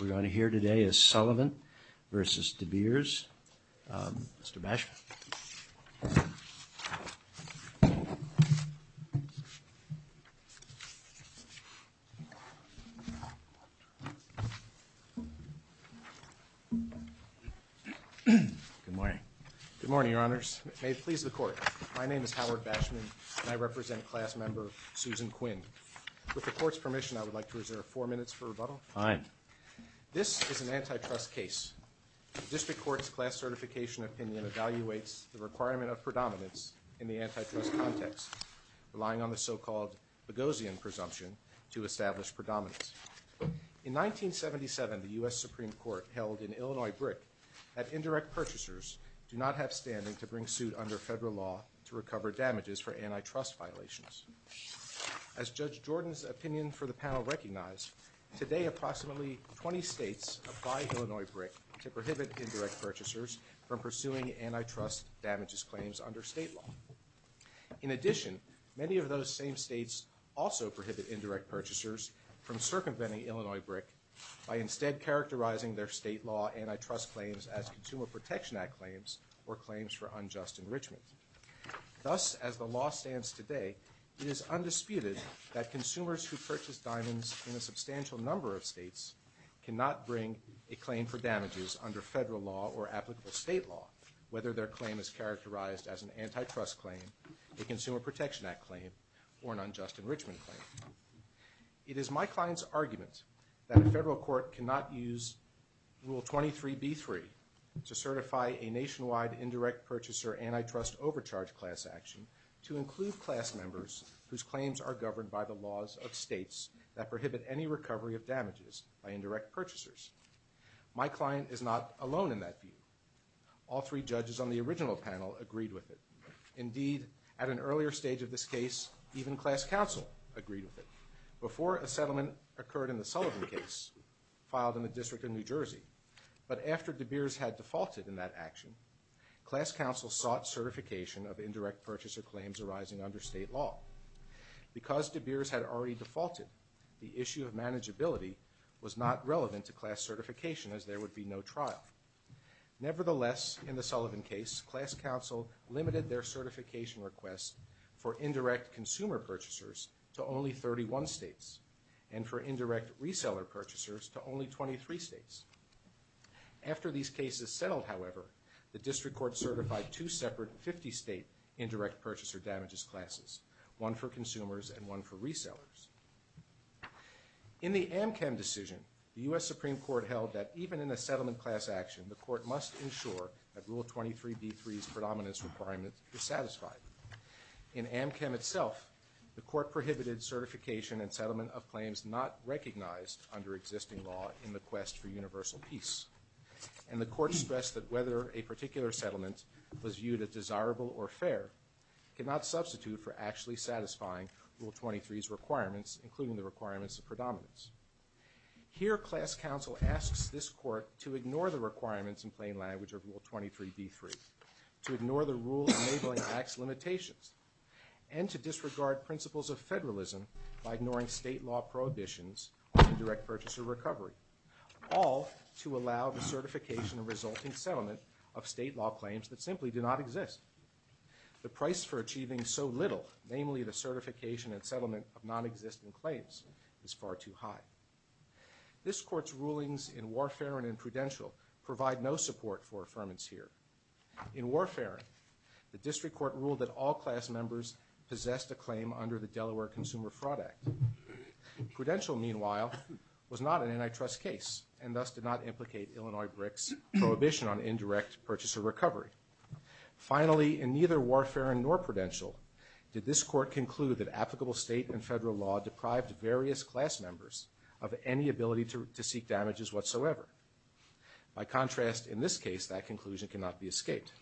We're going to hear today is Sullivan vs. De Beers. Mr. Bashman. Good morning. Good morning, Your Honors. May it please the Court. My name is Howard Bashman, and I represent Class Member Susan Quinn. With the Court's permission, I would like to reserve four minutes for rebuttal. Fine. This is an antitrust case. The District Court's Class Certification Opinion evaluates the requirement of predominance in the antitrust context, relying on the so-called Boghossian presumption to establish predominance. In 1977, the U.S. Supreme Court held in Illinois-Brick that indirect purchasers do not have standing to bring suit under federal law to recover damages for antitrust violations. As Judge Jordan's opinion for the panel recognized, today approximately 20 states apply Illinois-Brick to prohibit indirect purchasers from pursuing antitrust damages claims under state law. In addition, many of those same states also prohibit indirect purchasers from circumventing Illinois-Brick by instead characterizing their state law antitrust claims as Consumer Protection Act claims or claims for unjust enrichment. Thus, as the law stands today, it is undisputed that consumers who purchase diamonds in a substantial number of states cannot bring a claim for damages under federal law or applicable state law, whether their claim is characterized as an antitrust claim, a Consumer Protection Act claim, or an unjust enrichment claim. It is my client's argument that a federal court cannot use Rule 23b-3 to certify a nationwide indirect purchaser antitrust overcharge class action to include class members whose claims are governed by the laws of states that prohibit any recovery of damages by indirect purchasers. My client is not alone in that view. All three judges on the original panel agreed with it. Indeed, at an earlier stage of this case, even class counsel agreed with it before a settlement occurred in the Sullivan case filed in the District of New Jersey. But after De Beers had defaulted in that action, class counsel sought certification of indirect purchaser claims arising under state law. Because De Beers had already defaulted, the issue of manageability was not relevant to class certification as there would be no trial. Nevertheless, in the Sullivan case, class counsel limited their certification requests for indirect consumer purchasers to only 31 states and for indirect reseller purchasers to only 23 states. After these cases settled, however, the district court certified two separate 50-state indirect purchaser damages classes, one for consumers and one for resellers. In the AmChem decision, the U.S. Supreme Court held that even in a settlement class action, the court must ensure that Rule 23d3's predominance requirement is satisfied. In AmChem itself, the court prohibited certification and settlement of claims not recognized under existing law in the quest for universal peace. And the court expressed that whether a particular settlement was viewed as desirable or fair cannot substitute for actually satisfying Rule 23's requirements, including the requirements of predominance. Here, class counsel asks this court to ignore the requirements in plain language of Rule 23d3, to ignore the rule enabling tax limitations, and to disregard principles of federalism by ignoring state law prohibitions of direct purchaser recovery, all to allow the certification of resulting settlement of state law claims that simply do not exist. The price for achieving so little, namely the certification and settlement of nonexistent claims, is far too high. This court's rulings in Warfarin and Prudential provide no support for affirmance here. In Warfarin, the district court ruled that all class members possessed a claim under the Delaware Consumer Fraud Act. Prudential, meanwhile, was not an antitrust case, and thus did not implicate Illinois BRIC's prohibition on indirect purchaser recovery. Finally, in neither Warfarin nor Prudential, did this court conclude that applicable state and federal law deprived various class members of any ability to seek damages whatsoever. By contrast, in this case, that conclusion cannot be escaped.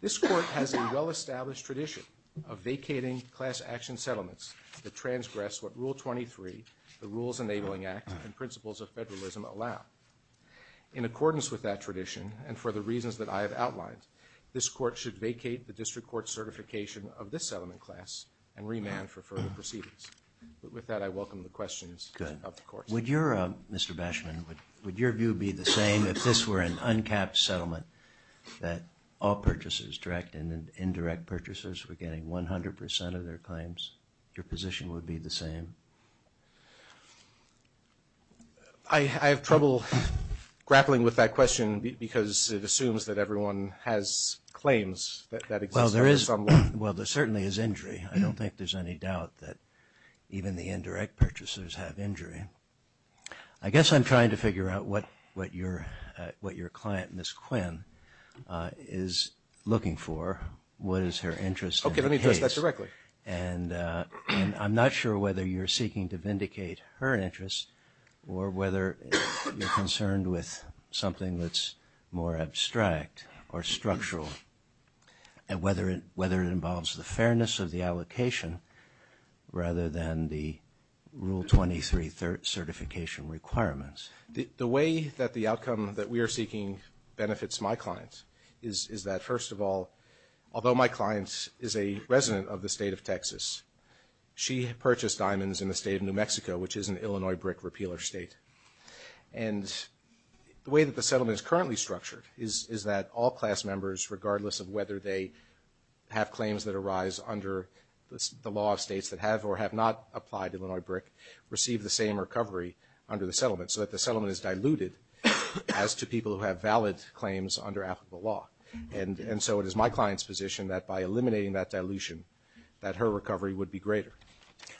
This court has a well-established tradition of vacating class action settlements that transgress what Rule 23, the Rules Enabling Act, and principles of federalism allow. In accordance with that tradition, and for the reasons that I have outlined, this court should vacate the district court certification of this settlement class and remand for further proceedings. With that, I welcome the questions of the court. Would your, Mr. Bashman, would your view be the same if this were an uncapped settlement, that all purchases, direct and indirect purchases, were getting 100 percent of their claims? Your position would be the same? I have trouble grappling with that question because it assumes that everyone has claims that exist. Well, there certainly is injury. I don't think there's any doubt that even the indirect purchasers have injury. I guess I'm trying to figure out what your client, Ms. Quinn, is looking for. What is her interest in the case? Okay. Let me put it that directly. And I'm not sure whether you're seeking to vindicate her interest or whether you're concerned with something that's more abstract or structural and whether it involves the fairness of the allocation rather than the Rule 23 certification requirements. The way that the outcome that we are seeking benefits my clients is that, first of all, although my client is a resident of the state of Texas, she purchased diamonds in the state of New Mexico, which is an Illinois brick repealer state. And the way that the settlement is currently structured is that all class members, regardless of whether they have claims that arise under the law of states that have or have not applied to Illinois brick, receive the same recovery under the settlement, so that the settlement is diluted as to people who have valid claims under applicable law. And so it is my client's position that by eliminating that dilution that her recovery would be greater.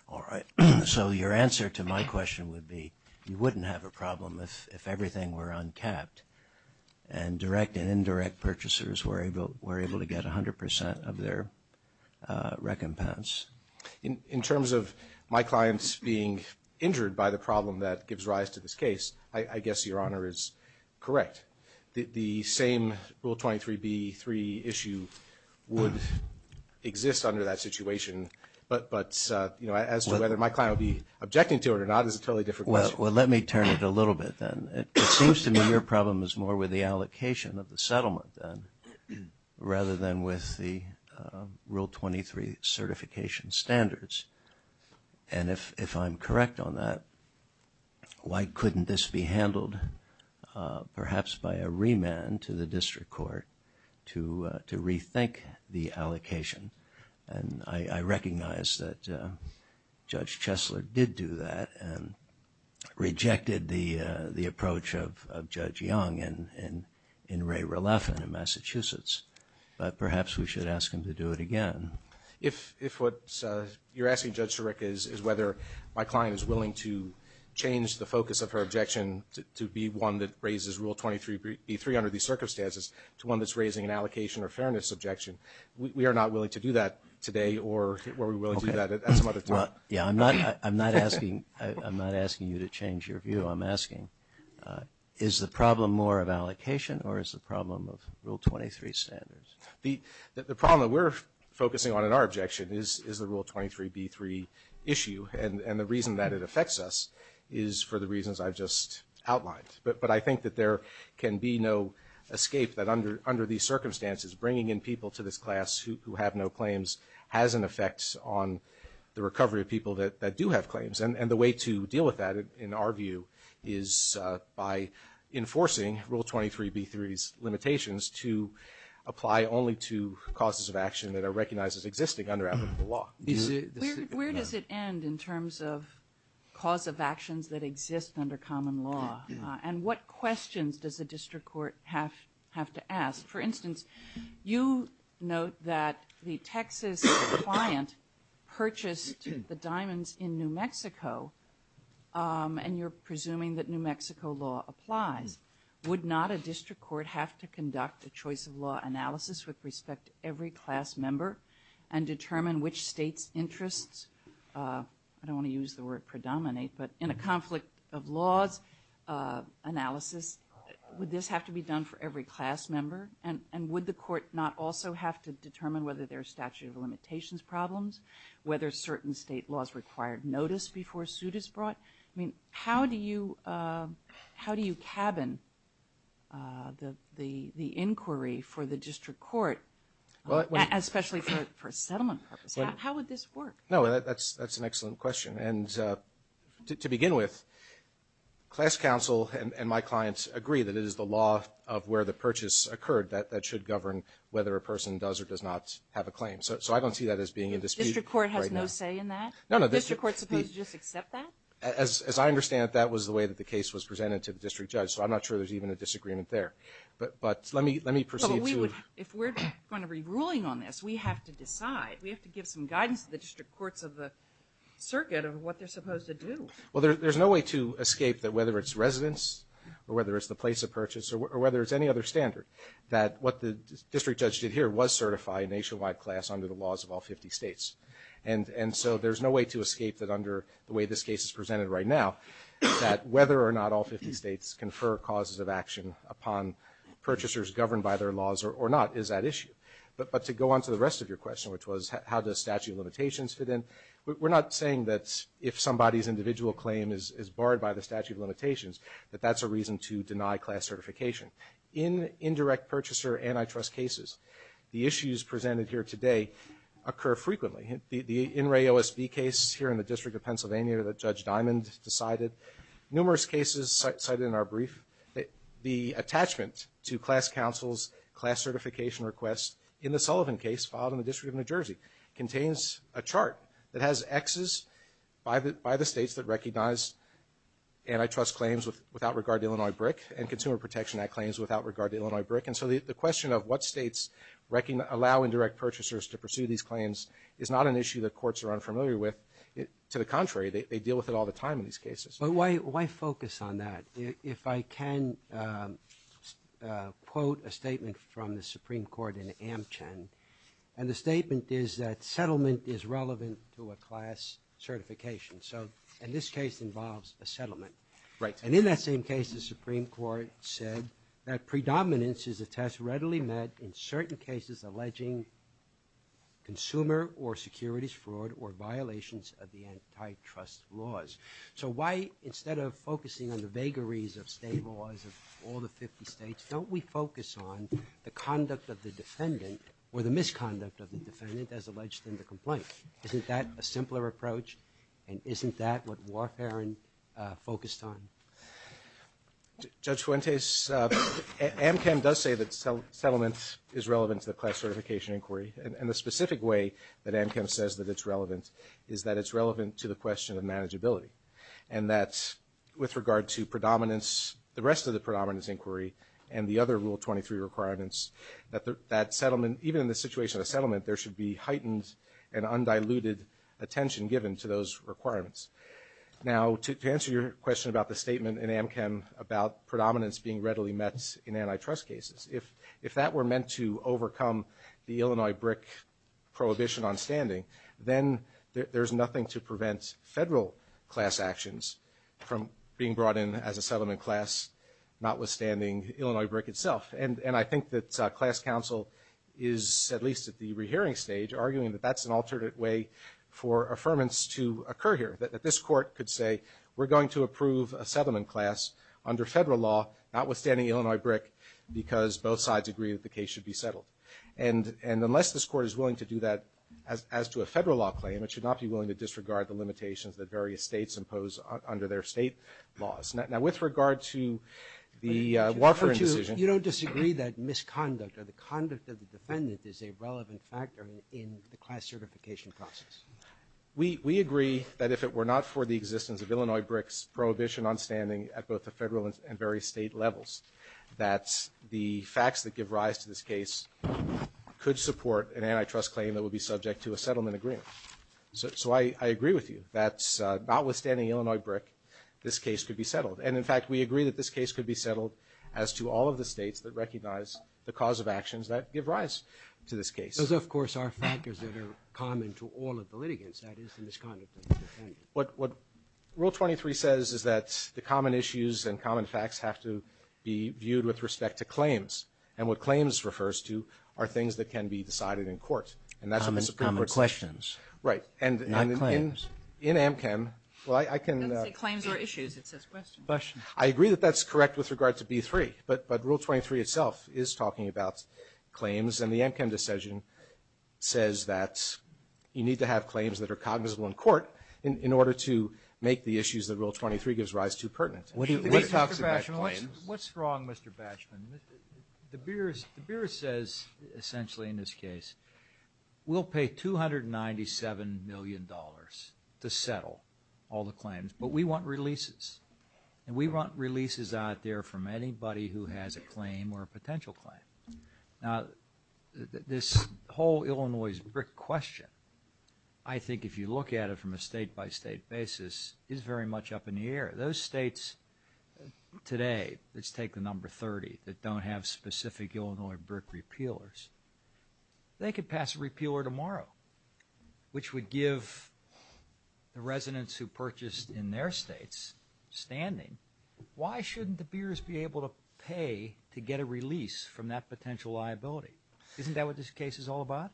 All right. So your answer to my question would be you wouldn't have a problem if everything were untapped and direct and indirect purchasers were able to get 100 percent of their recompense. In terms of my clients being injured by the problem that gives rise to this case, I guess Your Honor is correct. The same Rule 23b-3 issue would exist under that situation. But, you know, as to whether my client would be objecting to it or not is a totally different question. Well, let me turn it a little bit then. It seems to me your problem is more with the allocation of the settlement then, rather than with the Rule 23 certification standards. And if I'm correct on that, why couldn't this be handled perhaps by a remand to the district court to rethink the allocation? And I recognize that Judge Chesler did do that and rejected the approach of Judge Young in Ray Rolaffen in Massachusetts. But perhaps we should ask him to do it again. If what you're asking, Judge Sarek, is whether my client is willing to change the focus of her objection to be one that raises Rule 23b-3 under these circumstances to one that's raising an allocation or fairness objection, we are not willing to do that today or we will do that at some other time. Yeah, I'm not asking you to change your view. I'm asking is the problem more of allocation or is the problem of Rule 23 standards? The problem that we're focusing on in our objection is the Rule 23b-3 issue. And the reason that it affects us is for the reasons I just outlined. But I think that there can be no escape that under these circumstances bringing in people to this class who have no claims has an effect on the recovery of people that do have claims. And the way to deal with that, in our view, is by enforcing Rule 23b-3's limitations to apply only to causes of action that are recognized as existing under applicable law. Where does it end in terms of cause of actions that exist under common law? And what questions does a district court have to ask? For instance, you note that the Texas client purchased the diamonds in New Mexico and you're presuming that New Mexico law applies. Would not a district court have to conduct a choice of law analysis with respect to every class member and determine which state's interests, I don't want to use the word predominate, but in a conflict of laws analysis, would this have to be done for every class member? And would the court not also have to determine whether there's statute of limitations problems, whether certain state laws required notice before a suit is brought? I mean, how do you cabin the inquiry for the district court, especially for settlement purposes? How would this work? No, that's an excellent question. And to begin with, class counsel and my clients agree that it is the law of where the purchase occurred that should govern whether a person does or does not have a claim. So I don't see that as being in dispute right now. Is the district court supposed to just accept that? As I understand it, that was the way that the case was presented to the district judge, so I'm not sure there's even a disagreement there. But let me proceed. If we're going to be ruling on this, we have to decide. We have to give some guidance to the district courts of the circuit of what they're supposed to do. Well, there's no way to escape that whether it's residence or whether it's the place of purchase or whether it's any other standard, that what the district judge did here was certify a nationwide class under the laws of all 50 states. And so there's no way to escape that under the way this case is presented right now, that whether or not all 50 states confer causes of action upon purchasers governed by their laws or not is that issue. But to go on to the rest of your question, which was how does statute of limitations fit in, we're not saying that if somebody's individual claim is barred by the statute of limitations, that that's a reason to deny class certification. In indirect purchaser antitrust cases, the issues presented here today occur frequently. The In Ray OSB case here in the District of Pennsylvania that Judge Diamond decided, numerous cases cited in our brief, the attachment to class councils, class certification requests in the Sullivan case filed in the District of New Jersey, contains a chart that has Xs by the states that recognize antitrust claims without regard to Illinois BRIC and Consumer Protection Act claims without regard to Illinois BRIC. And so the question of what states allow indirect purchasers to pursue these claims is not an issue that courts are unfamiliar with. To the contrary, they deal with it all the time in these cases. But why focus on that? If I can quote a statement from the Supreme Court in Amchin, and the statement is that settlement is relevant to a class certification. So in this case involves a settlement. Right. And in that same case, the Supreme Court said that predominance is a test readily met in certain cases alleging consumer or securities fraud or violations of the antitrust laws. So why, instead of focusing on the vagaries of state laws of all the 50 states, don't we focus on the conduct of the defendant or the misconduct of the defendant as alleged in the complaint? Isn't that a simpler approach? And isn't that what Warfarin focused on? Judge Fuentes, Amchin does say that settlement is relevant to a class certification inquiry. And the specific way that Amchin says that it's relevant is that it's relevant to the question of manageability. And that's with regard to predominance, the rest of the predominance inquiry, and the other Rule 23 requirements, that that settlement, even in the situation of settlement, there should be heightened and undiluted attention given to those requirements. Now, to answer your question about the statement in Amchin about predominance being readily met in antitrust cases, if that were meant to overcome the Illinois BRIC prohibition on standing, then there's nothing to prevent federal class actions from being brought in as a settlement class, notwithstanding Illinois BRIC itself. And I think that class counsel is, at least at the rehearing stage, arguing that that's an alternate way for affirmance to occur here, that this court could say we're going to approve a settlement class under federal law, notwithstanding Illinois BRIC, because both sides agree that the case should be settled. And unless this court is willing to do that as to a federal law claim, it should not be willing to disregard the limitations that various states impose under their state laws. Now, with regard to the Wofford decision. You don't disagree that misconduct or the conduct of the defendant is a relevant factor in the class certification process? We agree that if it were not for the existence of Illinois BRIC's prohibition on standing at both the federal and various state levels, that the facts that give rise to this case could support an antitrust claim that would be subject to a settlement agreement. So I agree with you that, notwithstanding Illinois BRIC, this case could be settled. And, in fact, we agree that this case could be settled as to all of the states that recognize the cause of actions that give rise to this case. Those, of course, are factors that are common to all of the litigants, that is to misconduct. What Rule 23 says is that the common issues and common facts have to be viewed with respect to claims. And what claims refers to are things that can be decided in court. Comments or questions. Right. Not claims. In AmChem. Claims or issues, it says questions. I agree that that's correct with regard to B3. But Rule 23 itself is talking about claims. And the AmChem decision says that you need to have claims that are cognizable in court in order to make the issues that Rule 23 gives rise to pertinent. What's wrong, Mr. Batchman? The Bureau says, essentially in this case, we'll pay $297 million to settle all the claims. But we want releases. And we want releases out there from anybody who has a claim or a potential claim. Now, this whole Illinois BRIC question, I think if you look at it from a state-by-state basis, is very much up in the air. Those states today, let's take the number 30, that don't have specific Illinois BRIC repealers, they could pass a repealer tomorrow, which would give the residents who purchased in their states standing. Why shouldn't the bureaus be able to pay to get a release from that potential liability? Isn't that what this case is all about?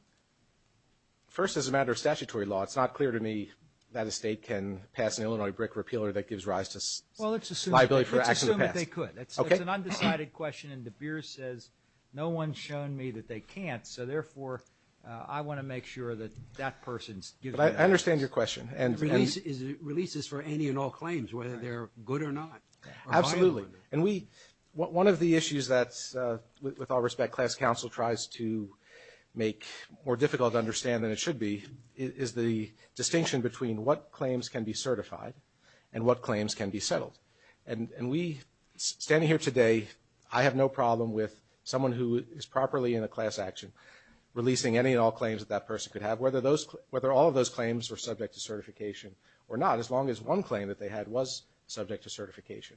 First, as a matter of statutory law, it's not clear to me that a state can pass an Illinois BRIC repealer that gives rise to liability for acts of the past. Well, let's assume that they could. It's an undecided question, and the bureau says, no one's shown me that they can't, so therefore I want to make sure that that person's given up. I understand your question. And releases for any and all claims, whether they're good or not. Absolutely. And one of the issues that, with all respect, class counsel tries to make more difficult to understand than it should be, is the distinction between what claims can be certified and what claims can be settled. And we, standing here today, I have no problem with someone who is properly in a class action, releasing any and all claims that that person could have, whether all of those claims were subject to certification or not, as long as one claim that they had was subject to certification.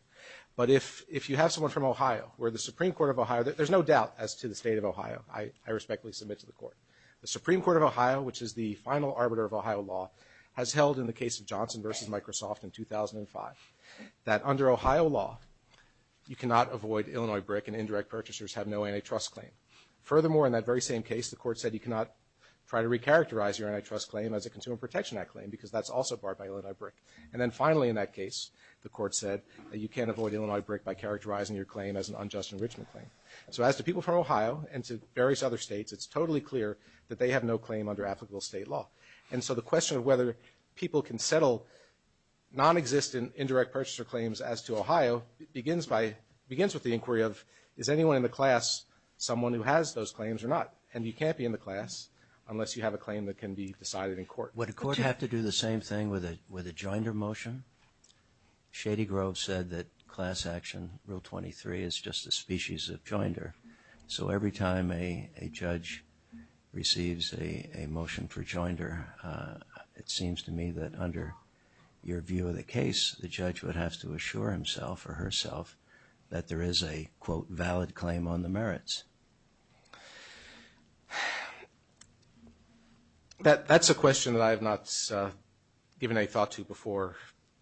But if you have someone from Ohio, where the Supreme Court of Ohio, there's no doubt as to the state of Ohio, I respectfully submit to the court. The Supreme Court of Ohio, which is the final arbiter of Ohio law, has held in the case of Johnson v. Microsoft in 2005, that under Ohio law you cannot avoid Illinois brick and indirect purchasers have no antitrust claim. Furthermore, in that very same case, the court said you cannot try to recharacterize your antitrust claim as a Consumer Protection Act claim, because that's also barred by Illinois brick. And then finally, in that case, the court said that you can't avoid Illinois brick by characterizing your claim as an unjust enrichment claim. So as to people from Ohio and to various other states, it's totally clear that they have no claim under applicable state law. And so the question of whether people can settle non-existent indirect purchaser claims as to Ohio, begins with the inquiry of, is anyone in the class someone who has those claims or not? And you can't be in the class unless you have a claim that can be decided in court. Would a court have to do the same thing with a joinder motion? Shady Grove said that class action, Rule 23, is just a species of joinder. So every time a judge receives a motion for joinder, it seems to me that under your view of the case, the judge would have to assure himself or herself that there is a, quote, valid claim on the merits. That's a question that I have not given a thought to before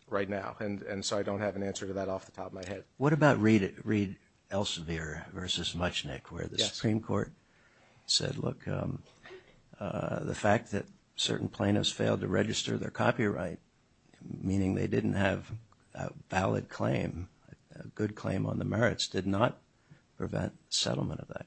right now, and so I don't have an answer to that off the top of my head. What about Reed Elsevier versus Muchnick, where the Supreme Court said, look, the fact that certain plaintiffs failed to register their copyright, meaning they didn't have a valid claim, a good claim on the merits, did not prevent settlement of that?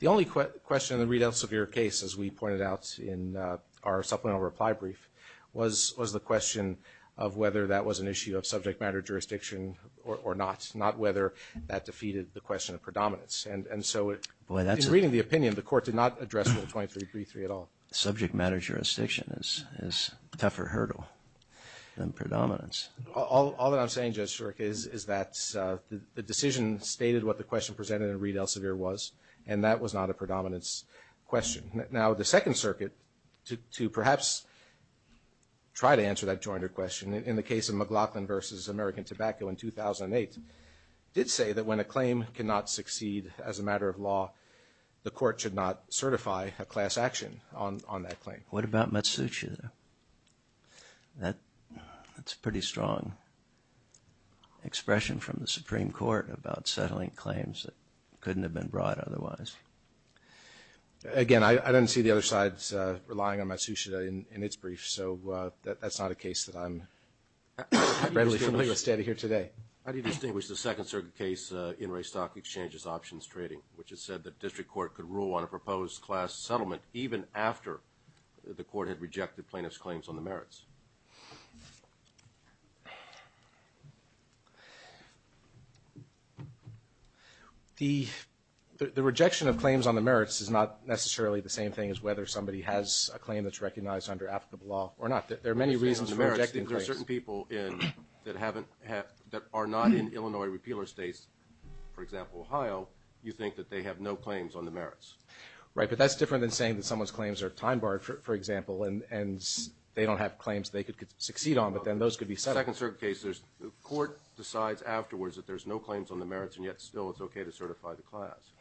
The only question in the Reed Elsevier case, as we pointed out in our supplemental reply brief, was the question of whether that was an issue of subject matter jurisdiction or not, not whether that defeated the question of predominance. And so in reading the opinion, the court did not address Rule 23 briefly at all. Subject matter jurisdiction is a tougher hurdle than predominance. All that I'm saying, Judge Shirk, is that the decision stated what the question presented in Reed Elsevier was, and that was not a predominance question. Now, the Second Circuit, to perhaps try to answer that jointed question, in the case of McLaughlin versus American Tobacco in 2008, did say that when a claim cannot succeed as a matter of law, the court should not certify a class action on that claim. What about Matsushita? That's a pretty strong expression from the Supreme Court about settling claims that couldn't have been brought otherwise. Again, I don't see the other side relying on Matsushita in its brief, so that's not a case that I'm readily familiar with standing here today. How do you distinguish the Second Circuit case, Interest Stock Exchange's options trading, which has said that district court could rule on a proposed class settlement even after the court had rejected plaintiff's claims on the merits? The rejection of claims on the merits is not necessarily the same thing as whether somebody has a claim that's recognized under applicable law or not. There are many reasons for rejecting claims. The merits that there are certain people in that are not in Illinois repealer states, for example, Ohio, you think that they have no claims on the merits. Right, but that's different than saying that someone's claims are time-barred, for example, and they don't have claims they could succeed on, but then those could be settled. In the Second Circuit case, the court decides afterwards that there's no claims on the merits, and yet still it's okay to certify the class.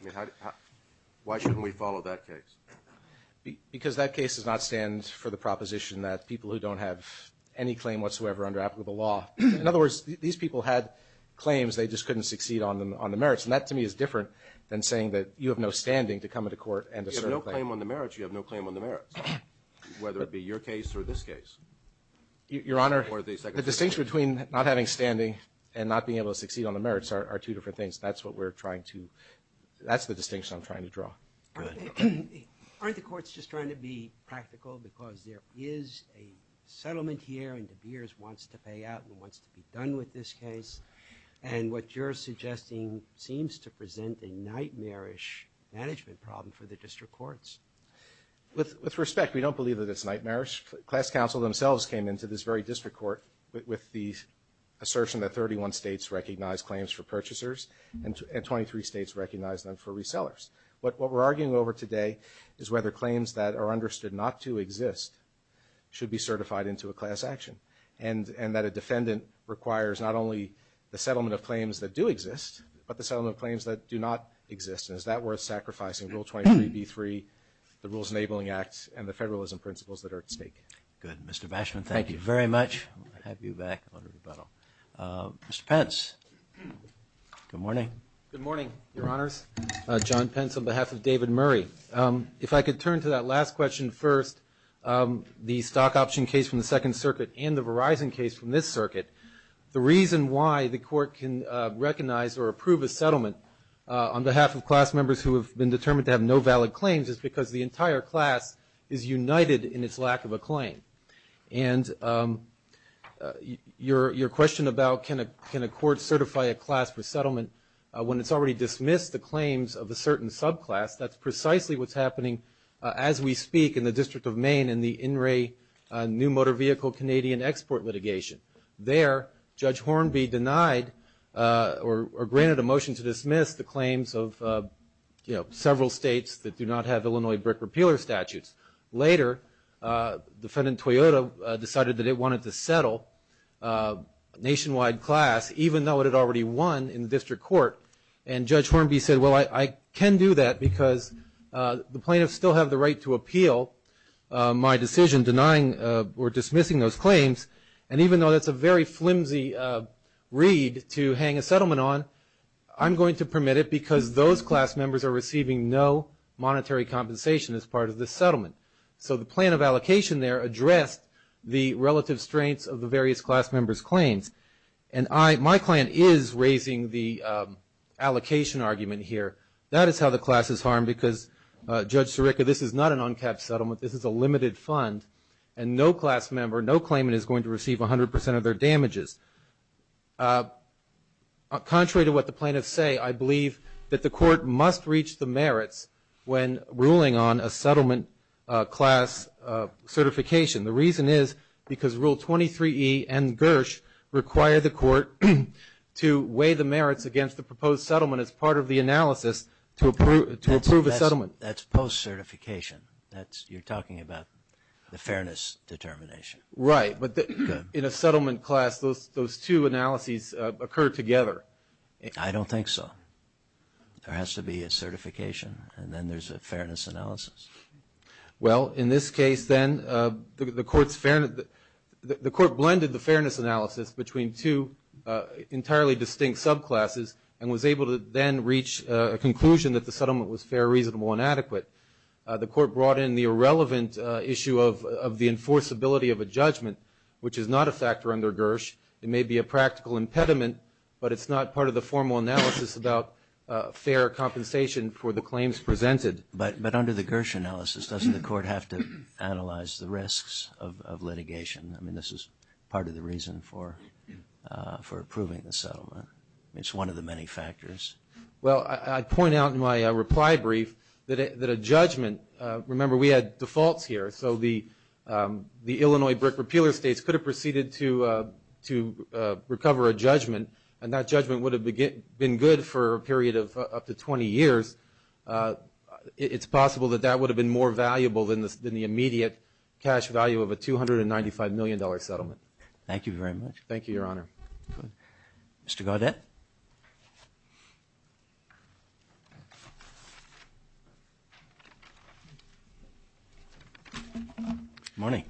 Why shouldn't we follow that case? Because that case does not stand for the proposition that people who don't have any claim whatsoever under applicable law. In other words, these people had claims, they just couldn't succeed on the merits, and that to me is different than saying that you have no standing to come into court and assert a claim. If you have no claim on the merits, you have no claim on the merits, whether it be your case or this case. Your Honor, the distinction between not having standing and not being able to succeed on the merits are two different things. That's what we're trying to – that's the distinction I'm trying to draw. Aren't the courts just trying to be practical because there is a settlement here and De Beers wants to pay out and wants to be done with this case, and what you're suggesting seems to present a nightmarish management problem for the district courts. With respect, we don't believe that it's nightmarish. Class counsel themselves came into this very district court with the assertion that 31 states recognize claims for purchasers and 23 states recognize them for resellers. What we're arguing over today is whether claims that are understood not to exist should be certified into a class action and that a defendant requires not only the settlement of claims that do exist, but the settlement of claims that do not exist. Is that worth sacrificing Rule 23B3, the Rules Enabling Act, and the federalism principles that are at stake? Good. Mr. Bashman, thank you very much. I'll have you back under the pedal. Mr. Pence, good morning. Good morning, Your Honors. John Pence on behalf of David Murray. If I could turn to that last question first, the stock option case from the Second Circuit and the Verizon case from this circuit. The reason why the court can recognize or approve a settlement on behalf of class members who have been determined to have no valid claims is because the entire class is united in its lack of a claim. And your question about can a court certify a class for settlement when it's already dismissed the claims of a certain subclass, that's precisely what's happening as we speak in the District of Maine in the In-Ray New Motor Vehicle Canadian Export litigation. There, Judge Hornby denied or granted a motion to dismiss the claims of, you know, several states that do not have Illinois brick repealer statutes. Later, Defendant Toyota decided that it wanted to settle a nationwide class, even though it had already won in district court. And Judge Hornby said, well, I can do that because the plaintiffs still have the right to appeal my decision denying or dismissing those claims, and even though that's a very flimsy reed to hang a settlement on, I'm going to permit it because those class members are receiving no monetary compensation as part of this settlement. So the plan of allocation there addressed the relative strength of the various class members' claims. And my client is raising the allocation argument here. That is how the class is harmed because, Judge Sirica, this is not an uncapped settlement. This is a limited fund, and no class member, no claimant is going to receive 100% of their damages. Contrary to what the plaintiffs say, I believe that the court must reach the merits when ruling on a settlement class certification. The reason is because Rule 23E and Gersh require the court to weigh the merits against the proposed settlement as part of the analysis to approve a settlement. That's post-certification. You're talking about the fairness determination. Right, but in a settlement class, those two analyses occur together. I don't think so. There has to be a certification, and then there's a fairness analysis. Well, in this case, then, the court blended the fairness analysis between two entirely distinct subclasses and was able to then reach a conclusion that the settlement was fair, reasonable, and adequate. The court brought in the irrelevant issue of the enforceability of a judgment, which is not a factor under Gersh. It may be a practical impediment, but it's not part of the formal analysis about fair compensation for the claims presented. But under the Gersh analysis, doesn't the court have to analyze the risks of litigation? I mean, this is part of the reason for approving the settlement. It's one of the many factors. Well, I'd point out in my reply brief that a judgment – remember, we had defaults here, so the Illinois brick repealer states could have proceeded to recover a judgment, and that judgment would have been good for a period of up to 20 years. It's possible that that would have been more valuable than the immediate cash value of a $295 million settlement. Thank you very much. Thank you, Your Honor. Mr. Gaudet? Good morning.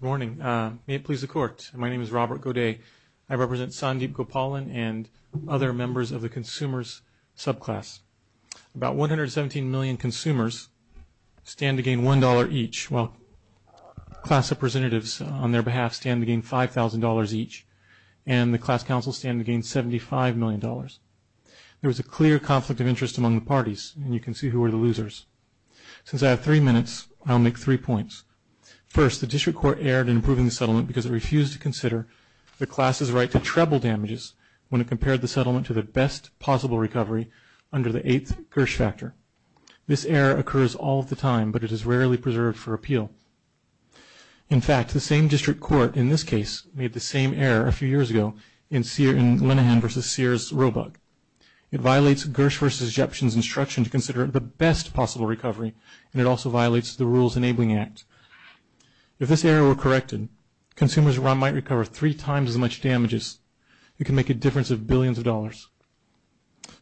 Good morning. May it please the Court, my name is Robert Gaudet. I represent Sandeep Gopalan and other members of the consumers subclass. About 117 million consumers stand to gain $1 each. Well, class representatives on their behalf stand to gain $5,000 each, and the class counsels stand to gain $75 million. There was a clear conflict of interest among the parties, and you can see who were the losers. Since I have three minutes, I'll make three points. First, the district court erred in approving the settlement because it refused to consider the class's right to treble damages when it compared the settlement to the best possible recovery under the eighth Gersh factor. This error occurs all the time, but it is rarely preserved for appeal. In fact, the same district court in this case made the same error a few years ago in Linehan v. Sears Roebuck. It violates Gersh v. Jeption's instruction to consider it the best possible recovery, and it also violates the Rules Enabling Act. If this error were corrected, consumers might recover three times as much damages. It can make a difference of billions of dollars.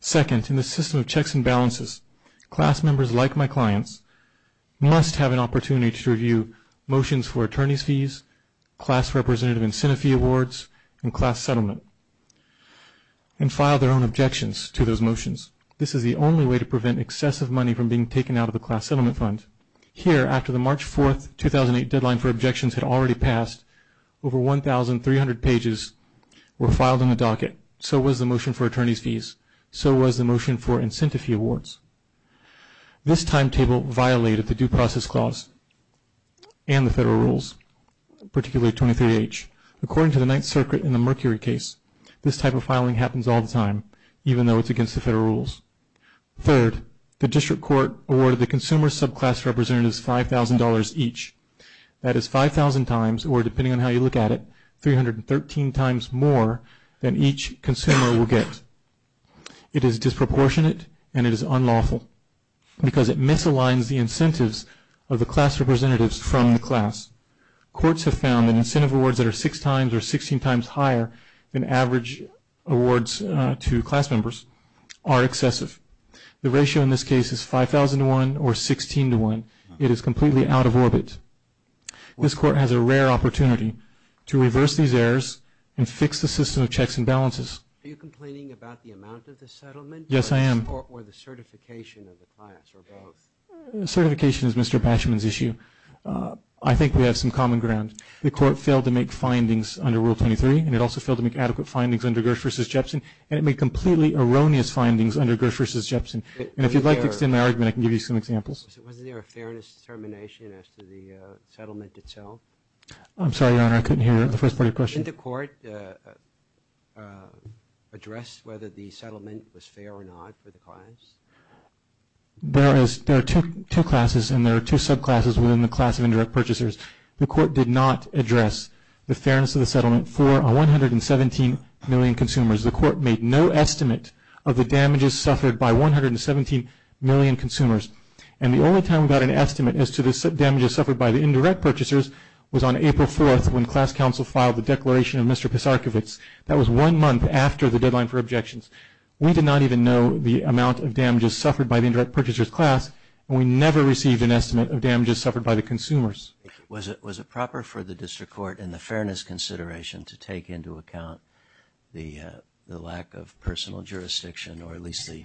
Second, in the system of checks and balances, class members like my clients must have an opportunity to review motions for attorney's fees, class representative incentive fee awards, and class settlement, and file their own objections to those motions. This is the only way to prevent excessive money from being taken out of the class settlement fund. Here, after the March 4, 2008 deadline for objections had already passed, over 1,300 pages were filed in the docket. So was the motion for attorney's fees. So was the motion for incentive fee awards. This timetable violated the due process clause and the federal rules, particularly 23H. According to the Ninth Circuit in the Mercury case, this type of filing happens all the time, even though it's against the federal rules. Third, the district court awarded the consumer subclass representatives $5,000 each. That is 5,000 times, or depending on how you look at it, 313 times more than each consumer will get. It is disproportionate, and it is unlawful, because it misaligns the incentives of the class representatives from the class. Courts have found that incentive awards that are six times or 16 times higher than average awards to class members are excessive. The ratio in this case is 5,000 to 1 or 16 to 1. It is completely out of orbit. This court has a rare opportunity to reverse these errors and fix the system of checks and balances. Are you complaining about the amount of the settlement? Yes, I am. Or the certification of the class? Certification is Mr. Bashman's issue. I think we have some common ground. The court failed to make findings under Rule 23, and it also failed to make adequate findings under Gersh v. Jepsen, and it made completely erroneous findings under Gersh v. Jepsen. If you'd like to extend the argument, I can give you some examples. Wasn't there a fairness determination as to the settlement itself? I'm sorry, Your Honor, I couldn't hear the first part of your question. Did the court address whether the settlement was fair or not for the class? There are two classes, and there are two subclasses within the class of indirect purchasers. The court did not address the fairness of the settlement for 117 million consumers. The court made no estimate of the damages suffered by 117 million consumers, and the only time we got an estimate as to the damages suffered by the indirect purchasers was on April 4th when class counsel filed the declaration of Mr. Pissarkovits. That was one month after the deadline for objections. We did not even know the amount of damages suffered by the indirect purchasers class, and we never received an estimate of damages suffered by the consumers. Was it proper for the district court in the fairness consideration to take into account the lack of personal jurisdiction or at least the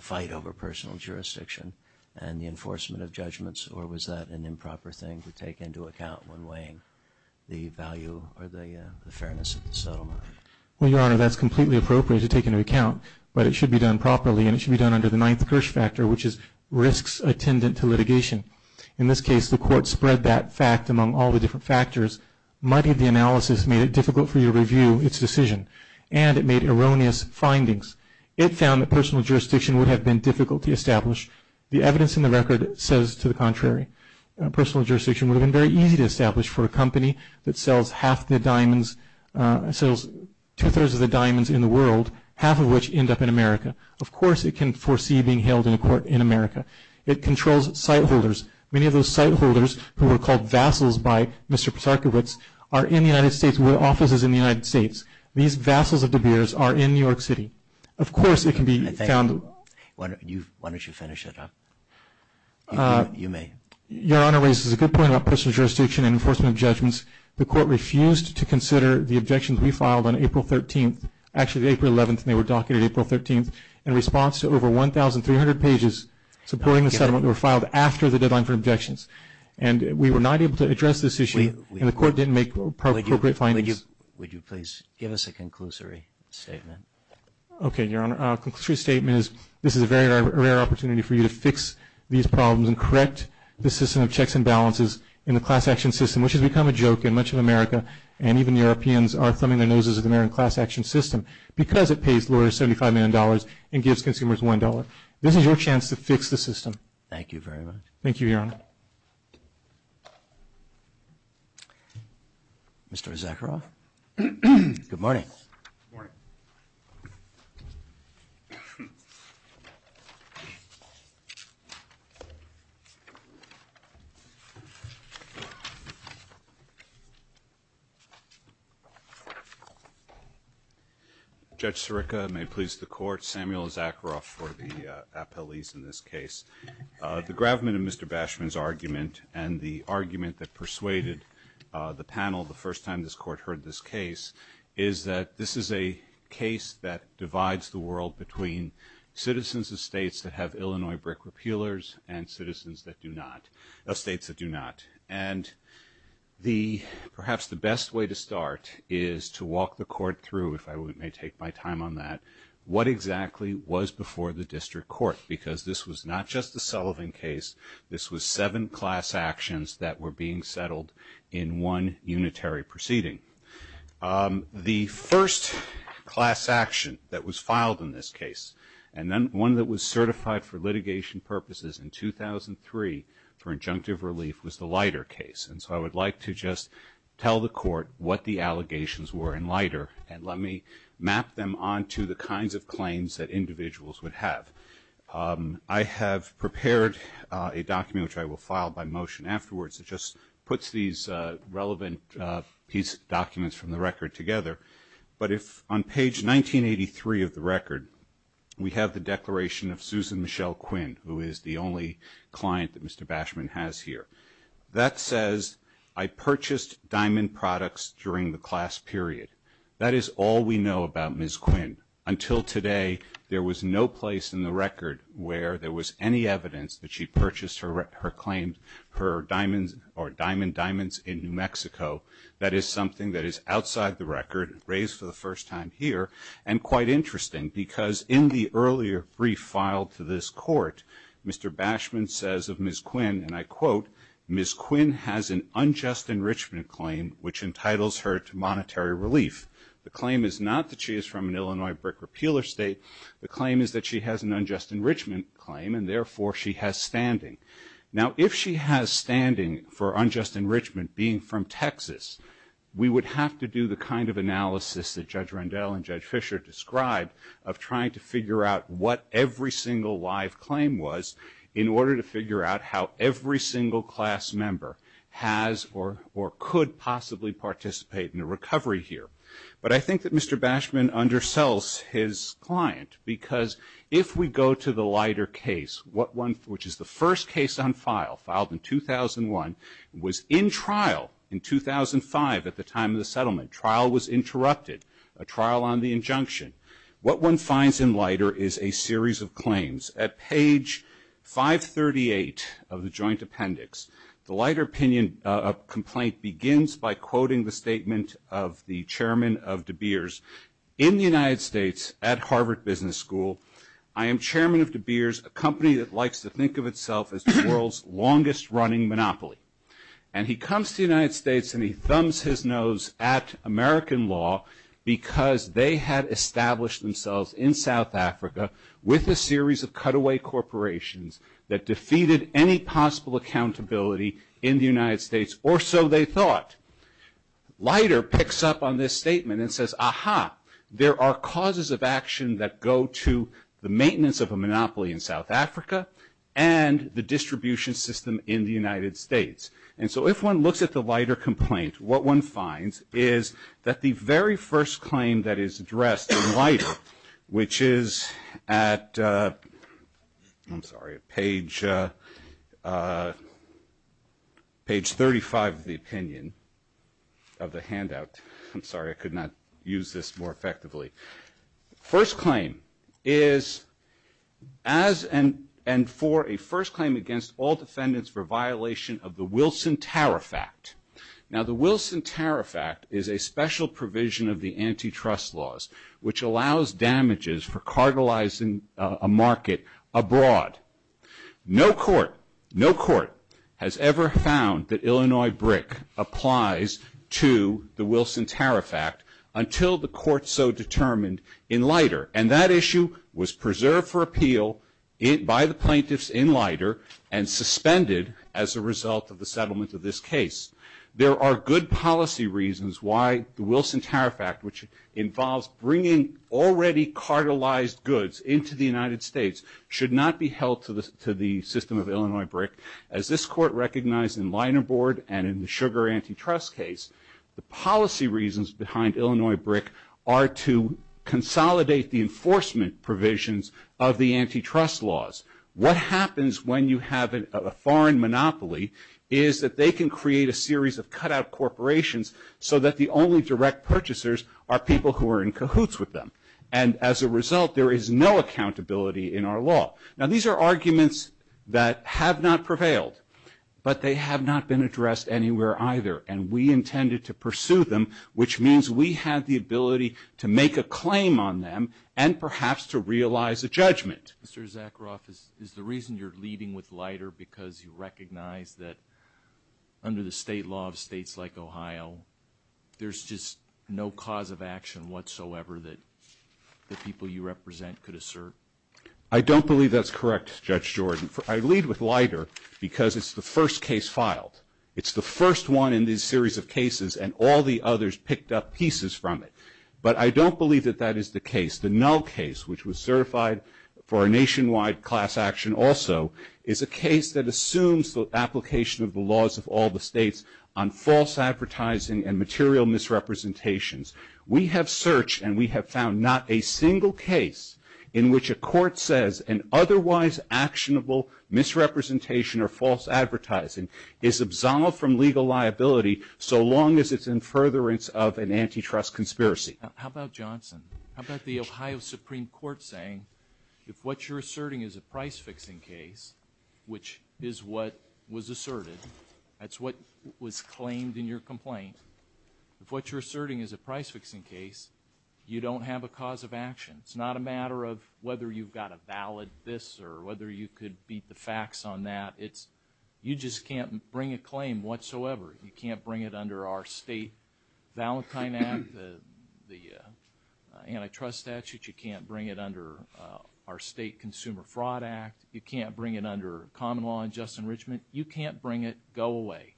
fight over personal jurisdiction and the enforcement of judgments, or was that an improper thing to take into account when weighing the value or the fairness of the settlement? Well, Your Honor, that's completely appropriate to take into account, but it should be done properly, and it should be done under the ninth Gersh factor, which is risks attendant to litigation. In this case, the court spread that fact among all the different factors, muddied the analysis, made it difficult for you to review its decision, and it made erroneous findings. It found that personal jurisdiction would have been difficult to establish. The evidence in the record says to the contrary. Personal jurisdiction would have been very easy to establish for a company that sells two-thirds of the diamonds in the world, half of which end up in America. Of course it can foresee being held in court in America. It controls site holders. Many of those site holders who were called vassals by Mr. Persakowitz are in the United States and with offices in the United States. These vassals of De Beers are in New York City. Of course it can be found... Why don't you finish it up? You may. Your Honor raises a good point about personal jurisdiction and enforcement of judgments. The court refused to consider the objections we filed on April 13th, actually April 11th, and they were docketed April 13th, in response to over 1,300 pages supporting the settlement that were filed after the deadline for objections. And we were not able to address this issue, and the court didn't make appropriate findings. Would you please give us a conclusory statement? Okay, Your Honor. A conclusory statement is this is a very rare opportunity for you to fix these problems and correct the system of checks and balances in the class action system, which has become a joke in much of America, and even Europeans are throwing their noses in the American class action system because it pays more than $75 million and gives consumers $1. This is your chance to fix the system. Thank you very much. Thank you, Your Honor. Mr. Zakharoff? Good morning. Good morning. Judge Sirica, may it please the Court, Samuel Zakharoff for the appellees in this case. The gravamen of Mr. Bashman's argument and the argument that persuaded the panel the first time this Court heard this case is that this is a case that divides the world between citizens and states that have Illinois brick repealers and states that do not. And perhaps the best way to start is to walk the Court through, if I may take my time on that, what exactly was before the district court, because this was not just the Sullivan case. This was seven class actions that were being settled in one unitary proceeding. The first class action that was filed in this case, and one that was certified for litigation purposes in 2003 for injunctive relief, was the Leiter case. And so I would like to just tell the Court what the allegations were in Leiter and let me map them onto the kinds of claims that individuals would have. I have prepared a document which I will file by motion afterwards that just puts these relevant documents from the record together. But on page 1983 of the record, we have the declaration of Susan Michelle Quinn, who is the only client that Mr. Bashman has here. That says, I purchased diamond products during the class period. That is all we know about Ms. Quinn. Until today, there was no place in the record where there was any evidence that she purchased her claims or diamond diamonds in New Mexico. That is something that is outside the record, raised for the first time here, and quite interesting because in the earlier brief filed to this Court, Mr. Bashman says of Ms. Quinn, and I quote, Ms. Quinn has an unjust enrichment claim which entitles her to monetary relief. The claim is not that she is from an Illinois brick or peeler state. The claim is that she has an unjust enrichment claim and therefore she has standing. Now, if she has standing for unjust enrichment being from Texas, we would have to do the kind of analysis that Judge Rendell and Judge Fischer described of trying to figure out what every single live claim was in order to figure out how every single class member has or could possibly participate in the recovery here. But I think that Mr. Bashman undersells his client because if we go to the Leiter case, which is the first case on file, filed in 2001, was in trial in 2005 at the time of the settlement. Trial was interrupted, a trial on the injunction. At page 538 of the joint appendix, the Leiter opinion complaint begins by quoting the statement of the chairman of De Beers. In the United States at Harvard Business School, I am chairman of De Beers, a company that likes to think of itself as the world's longest running monopoly. And he comes to the United States and he thumbs his nose at American law because they had established themselves in South Africa with a series of cutaway corporations that defeated any possible accountability in the United States or so they thought. Leiter picks up on this statement and says, aha, there are causes of action that go to the maintenance of a monopoly in South Africa and the distribution system in the United States. And so if one looks at the Leiter complaint, what one finds is that the very first claim that is addressed in Leiter, which is at page 35 of the opinion, of the handout. I'm sorry, I could not use this more effectively. First claim is as and for a first claim against all defendants for violation of the Wilson Tariff Act. Now the Wilson Tariff Act is a special provision of the antitrust laws, which allows damages for cartelizing a market abroad. No court has ever found that Illinois brick applies to the Wilson Tariff Act until the court so determined in Leiter. And that issue was preserved for appeal by the plaintiffs in Leiter and suspended as a result of the settlement of this case. There are good policy reasons why the Wilson Tariff Act, which involves bringing already cartelized goods into the United States, should not be held to the system of Illinois brick, as this court recognized in Leiter board and in the sugar antitrust case. The policy reasons behind Illinois brick are to consolidate the enforcement provisions of the antitrust laws. What happens when you have a foreign monopoly is that they can create a series of cut-out corporations so that the only direct purchasers are people who are in cahoots with them. And as a result, there is no accountability in our law. Now these are arguments that have not prevailed, but they have not been addressed anywhere either. And we intended to pursue them, which means we have the ability to make a claim on them and perhaps to realize a judgment. Mr. Zakaroff, is the reason you're leading with Leiter because you recognize that under the state law of states like Ohio, there's just no cause of action whatsoever that the people you represent could assert? I don't believe that's correct, Judge Jordan. I lead with Leiter because it's the first case filed. It's the first one in this series of cases, and all the others picked up pieces from it. But I don't believe that that is the case. The Nell case, which was certified for a nationwide class action also, is a case that assumes the application of the laws of all the states on false advertising and material misrepresentations. We have searched and we have found not a single case in which a court says an otherwise actionable misrepresentation or false advertising is absolved from legal liability so long as it's in furtherance of an antitrust conspiracy. How about Johnson? How about the Ohio Supreme Court saying if what you're asserting is a price-fixing case, which is what was asserted, that's what was claimed in your complaint, if what you're asserting is a price-fixing case, you don't have a cause of action. It's not a matter of whether you've got a valid this or whether you could beat the facts on that. You just can't bring a claim whatsoever. You can't bring it under our state Valentine Act, the antitrust statute. You can't bring it under our state Consumer Fraud Act. You can't bring it under common law and just enrichment. You can't bring it. Go away.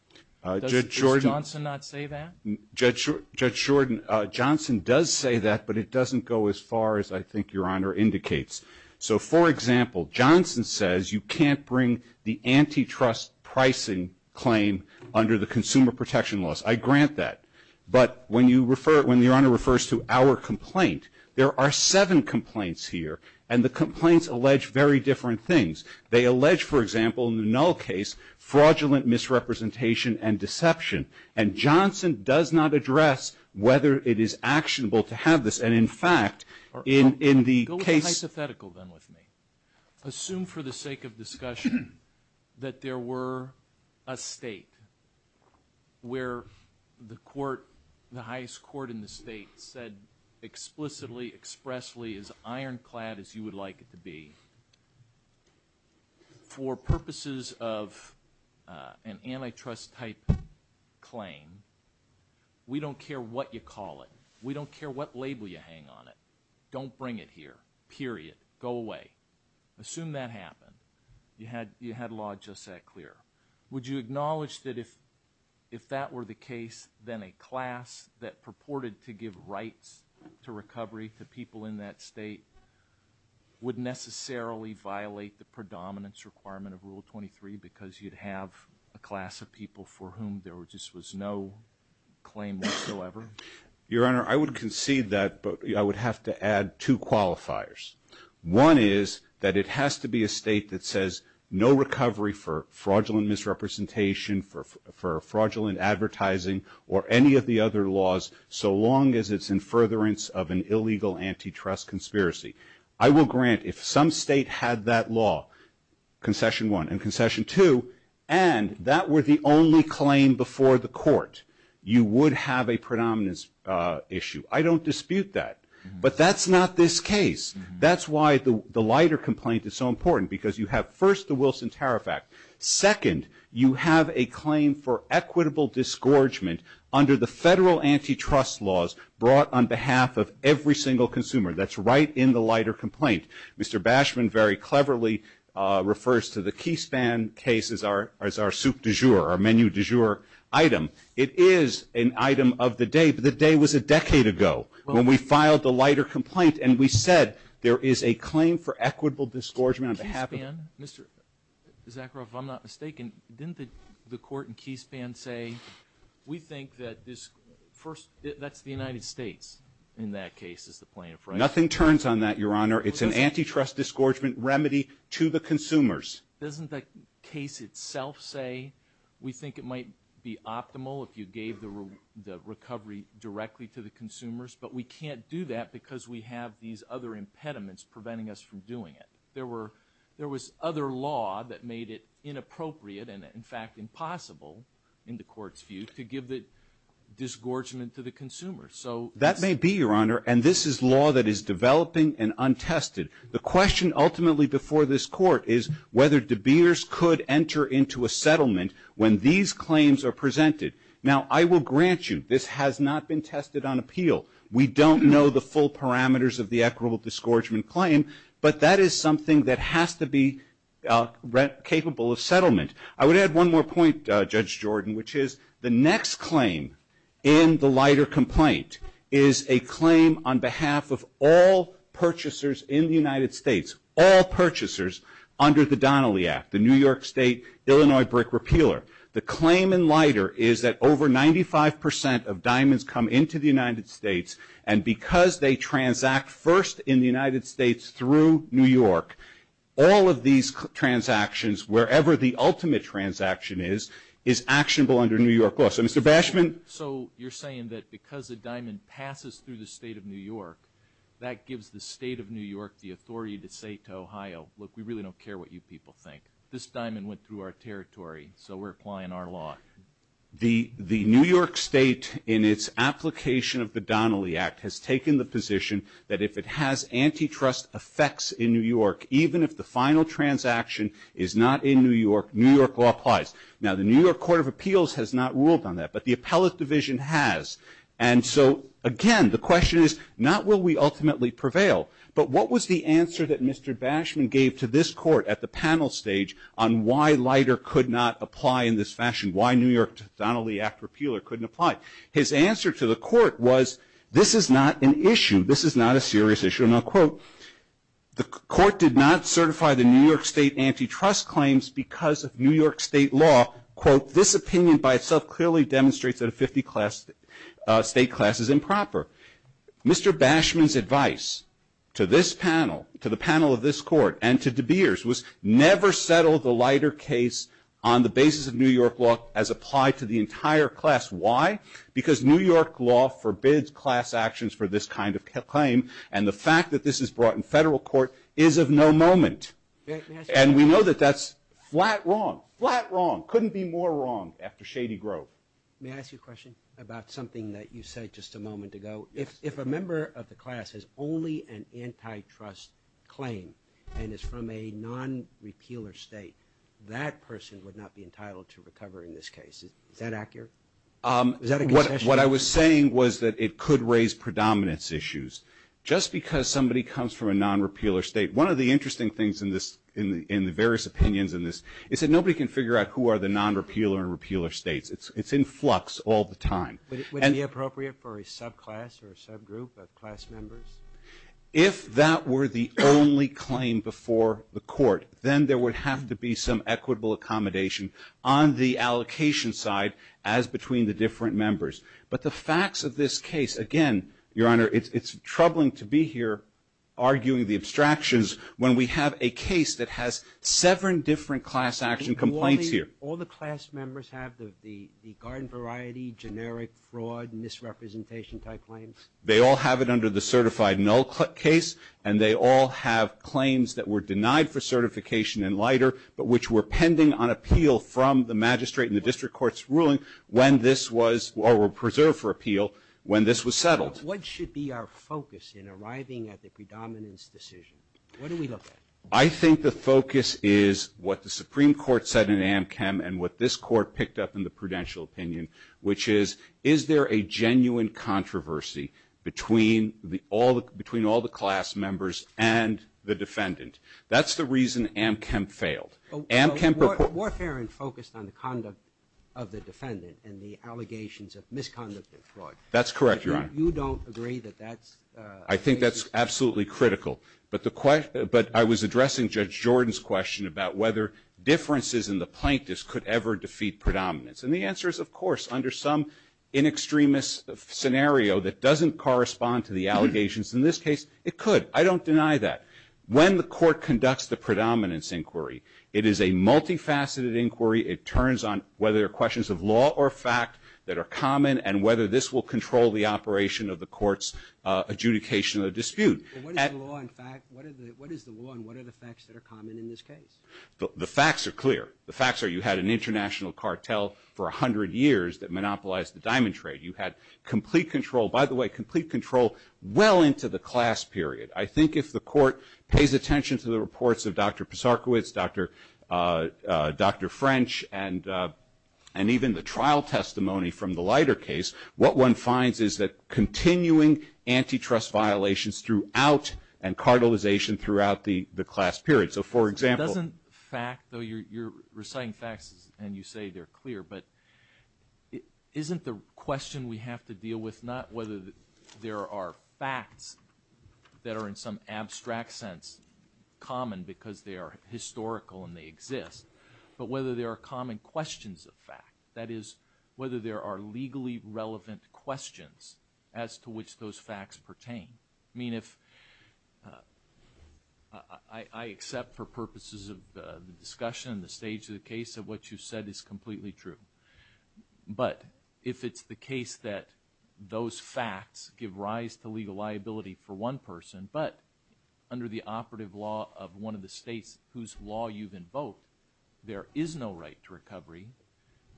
Does Judge Johnson not say that? Judge Jordan, Johnson does say that, but it doesn't go as far as I think Your Honor indicates. So, for example, Johnson says you can't bring the antitrust pricing claim under the Consumer Protection Laws. I grant that. But when the Honor refers to our complaint, there are seven complaints here, and the complaints allege very different things. They allege, for example, in the Null case, fraudulent misrepresentation and deception. And Johnson does not address whether it is actionable to have this. And, in fact, in the case – Go with the hypothetical then with me. Assume for the sake of discussion that there were a state where the court, the highest court in the state said explicitly, expressly, as ironclad as you would like it to be, for purposes of an antitrust-type claim, we don't care what you call it. We don't care what label you hang on it. Don't bring it here, period. Go away. Assume that happened. You had law just that clear. Would you acknowledge that if that were the case, then a class that purported to give rights to recovery to people in that state would necessarily violate the predominance requirement of Rule 23 because you'd have a class of people for whom there just was no claim whatsoever? Your Honor, I would concede that, but I would have to add two qualifiers. One is that it has to be a state that says no recovery for fraudulent misrepresentation, for fraudulent advertising, or any of the other laws, so long as it's in furtherance of an illegal antitrust conspiracy. I will grant if some state had that law, concession one and concession two, and that were the only claim before the court, you would have a predominance issue. I don't dispute that, but that's not this case. That's why the lighter complaint is so important because you have, first, the Wilson Tariff Act. Second, you have a claim for equitable disgorgement under the federal antitrust laws brought on behalf of every single consumer. That's right in the lighter complaint. Mr. Bashman very cleverly refers to the Keystan case as our soup du jour, our menu du jour item. It is an item of the day, but the day was a decade ago when we filed the lighter complaint, and we said there is a claim for equitable disgorgement on behalf of the consumer. Zachary, if I'm not mistaken, didn't the court in Keystan say, we think that this first, that's the United States in that case as the plaintiff. Nothing turns on that, Your Honor. It's an antitrust disgorgement remedy to the consumers. Doesn't that case itself say we think it might be optimal if you gave the recovery directly to the consumers, but we can't do that because we have these other impediments preventing us from doing it. There was other law that made it inappropriate and, in fact, impossible in the court's view to give the disgorgement to the consumers. That may be, Your Honor, and this is law that is developing and untested. The question ultimately before this court is whether debaters could enter into a settlement when these claims are presented. Now I will grant you this has not been tested on appeal. We don't know the full parameters of the equitable disgorgement claim, but that is something that has to be capable of settlement. I would add one more point, Judge Jordan, which is the next claim in the Leiter complaint is a claim on behalf of all purchasers in the United States, all purchasers under the Donnelly Act, the New York State Illinois brick repealer. The claim in Leiter is that over 95% of diamonds come into the United States and because they transact first in the United States through New York, all of these transactions, wherever the ultimate transaction is, is actionable under New York law. So, Mr. Bashman? So you're saying that because a diamond passes through the state of New York, that gives the state of New York the authority to say to Ohio, look, we really don't care what you people think. This diamond went through our territory, so we're applying our law. The New York State, in its application of the Donnelly Act, has taken the position that if it has antitrust effects in New York, even if the final transaction is not in New York, New York law applies. Now, the New York Court of Appeals has not ruled on that, but the appellate division has. And so, again, the question is not will we ultimately prevail, but what was the answer that Mr. Bashman gave to this court at the panel stage on why Leiter could not apply in this fashion, why New York's Donnelly Act repeal couldn't apply? His answer to the court was this is not an issue, this is not a serious issue. And I'll quote, the court did not certify the New York State antitrust claims because of New York State law. Quote, this opinion by itself clearly demonstrates that a 50 state class is improper. Mr. Bashman's advice to this panel, to the panel of this court, and to De Beers, was never settle the Leiter case on the basis of New York law as applied to the entire class. Why? Because New York law forbids class actions for this kind of claim, and the fact that this is brought in federal court is of no moment. And we know that that's flat wrong, flat wrong, couldn't be more wrong after Shady Grove. May I ask you a question about something that you said just a moment ago? If a member of the class has only an antitrust claim and is from a non-repealer state, that person would not be entitled to recover in this case. Is that accurate? What I was saying was that it could raise predominance issues. Just because somebody comes from a non-repealer state, one of the interesting things in the various opinions in this is that nobody can figure out who are the non-repealer and repealer states. It's in flux all the time. Would it be appropriate for a subclass or a subgroup of class members? If that were the only claim before the court, then there would have to be some equitable accommodation on the allocation side as between the different members. But the facts of this case, again, Your Honor, it's troubling to be here arguing the abstractions when we have a case that has seven different class action complaints here. Do all the class members have the garden variety, generic fraud, misrepresentation type claims? They all have it under the certified null case, and they all have claims that were denied for certification in Leiter but which were pending on appeal from the magistrate in the district court's ruling when this was preserved for appeal when this was settled. What should be our focus in arriving at the predominance decisions? What do we look at? I think the focus is what the Supreme Court said in AmChem and what this court picked up in the prudential opinion, which is is there a genuine controversy between all the class members and the defendant? That's the reason AmChem failed. Warfarin focused on the conduct of the defendant and the allegations of misconduct and fraud. That's correct, Your Honor. You don't agree that that's a failure? I think that's absolutely critical. But I was addressing Judge Jordan's question about whether differences in the plaintiffs could ever defeat predominance, and the answer is, of course, under some in extremis scenario that doesn't correspond to the allegations. In this case, it could. I don't deny that. When the court conducts the predominance inquiry, it is a multifaceted inquiry. It turns on whether there are questions of law or fact that are common and whether this will control the operation of the court's adjudication of the dispute. What is the law and what are the facts that are common in this case? The facts are clear. The facts are you had an international cartel for 100 years that monopolized the diamond trade. You had complete control. By the way, complete control well into the class period. I think if the court pays attention to the reports of Dr. Posarkowitz, Dr. French, and even the trial testimony from the Leiter case, what one finds is that continuing antitrust violations throughout and cartelization throughout the class period. So, for example. Doesn't fact, though you're reciting facts and you say they're clear, but isn't the question we have to deal with not whether there are facts that are in some abstract sense common because they are historical and they exist, but whether there are common questions of fact, that is, whether there are legally relevant questions as to which those facts pertain. I mean if – I accept for purposes of the discussion and the stage of the case that what you said is completely true. But if it's the case that those facts give rise to legal liability for one person, but under the operative law of one of the states whose law you've invoked, there is no right to recovery,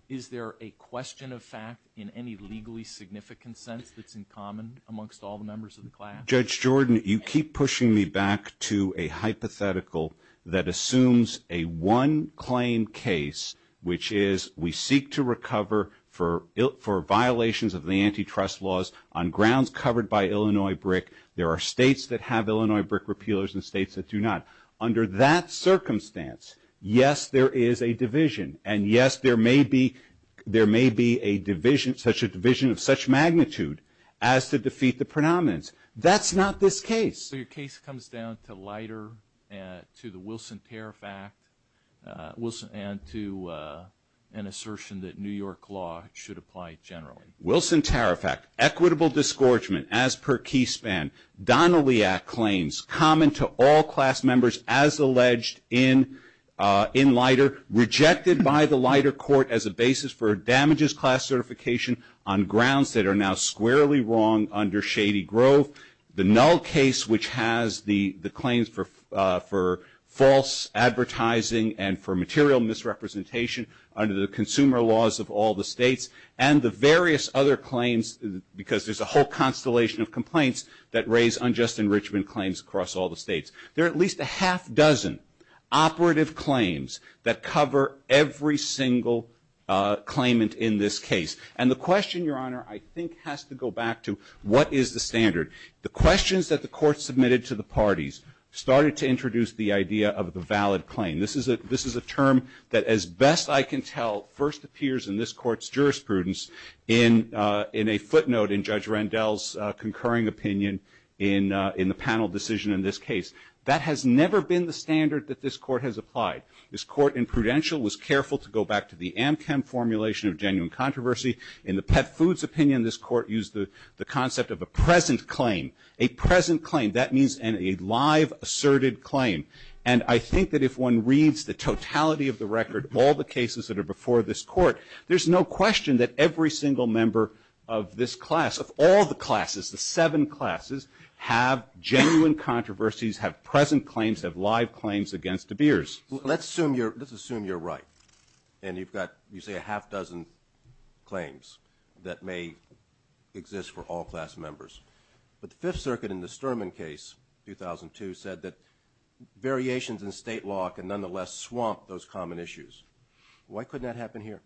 is there a question of fact in any legally significant sense that's in common amongst all the members of the class? Judge Jordan, you keep pushing me back to a hypothetical that assumes a one-claim case, which is we seek to recover for violations of the antitrust laws on grounds covered by Illinois BRIC. There are states that have Illinois BRIC repealers and states that do not. Under that circumstance, yes, there is a division. And, yes, there may be a division of such magnitude as to defeat the predominance. That's not this case. So your case comes down to Leiter, to the Wilson Tariff Act, and to an assertion that New York law should apply generally. Wilson Tariff Act, equitable disgorgement as per key span. Donnelly Act claims, common to all class members as alleged in Leiter, rejected by the Leiter court as a basis for a damages class certification on grounds that are now squarely wrong under shady growth. The Null case, which has the claims for false advertising and for material misrepresentation under the consumer laws of all the states, and the various other claims because there's a whole constellation of complaints that raise unjust enrichment claims across all the states. There are at least a half dozen operative claims that cover every single claimant in this case. And the question, Your Honor, I think has to go back to what is the standard. The questions that the court submitted to the parties started to introduce the idea of the valid claim. This is a term that, as best I can tell, first appears in this court's jurisprudence in a footnote in Judge Rendell's concurring opinion in the panel decision in this case. That has never been the standard that this court has applied. This court in Prudential was careful to go back to the Amchem formulation of genuine controversy. In the Pet Foods opinion, this court used the concept of a present claim. A present claim, that means a live, asserted claim. And I think that if one reads the totality of the record, all the cases that are before this court, there's no question that every single member of this class, of all the classes, the seven classes, have genuine controversies, have present claims, have live claims against the beers. Let's assume you're right, and you've got, you say, a half dozen claims that may exist for all class members. But the Fifth Circuit in the Sturman case, 2002, said that variations in state law can nonetheless swamp those common issues. Why couldn't that happen here?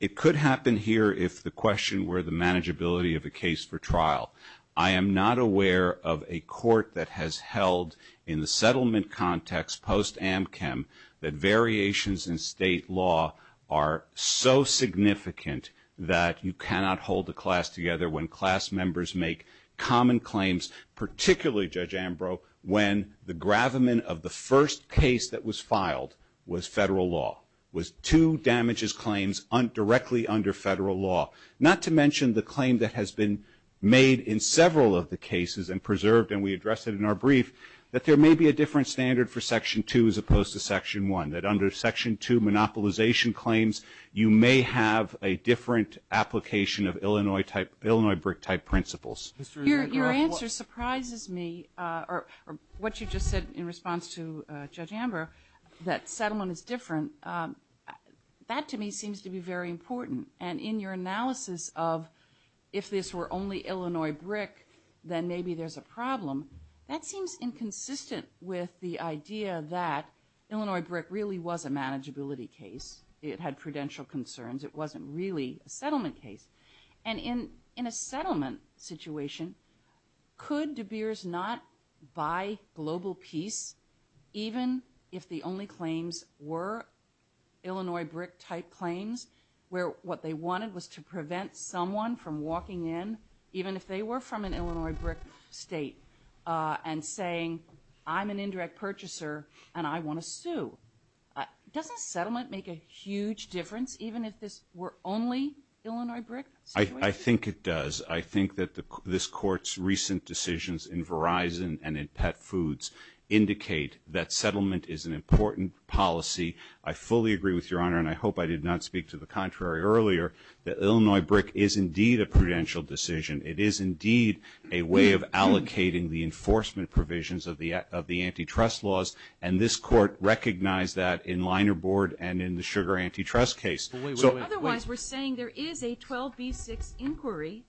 It could happen here if the question were the manageability of the case for trial. I am not aware of a court that has held in the settlement context, post-Amchem, that variations in state law are so significant that you cannot hold the class together when class members make common claims, particularly, Judge Ambrose, when the gravamen of the first case that was filed was federal law, was two damages claims directly under federal law. Not to mention the claim that has been made in several of the cases and preserved, and we addressed it in our brief, that there may be a different standard for Section 2 as opposed to Section 1, that under Section 2 monopolization claims, you may have a different application of Illinois brick-type principles. Your answer surprises me, or what you just said in response to Judge Ambrose, that settlement is different. That, to me, seems to be very important. And in your analysis of if this were only Illinois brick, then maybe there's a problem, that seems inconsistent with the idea that Illinois brick really was a manageability case. It had prudential concerns. It wasn't really a settlement case. And in a settlement situation, could De Beers not, by global peace, even if the only claims were Illinois brick-type claims, where what they wanted was to prevent someone from walking in, even if they were from an Illinois brick state, and saying, I'm an indirect purchaser and I want to sue. Doesn't settlement make a huge difference, even if this were only Illinois brick? I think it does. I think that this Court's recent decisions in Verizon and in Pet Foods indicate that settlement is an important policy. I fully agree with Your Honor, and I hope I did not speak to the contrary earlier, that Illinois brick is indeed a prudential decision. It is indeed a way of allocating the enforcement provisions of the antitrust laws, and this Court recognized that in Liner Board and in the sugar antitrust case. Otherwise, we're saying there is a 12B6 inquiry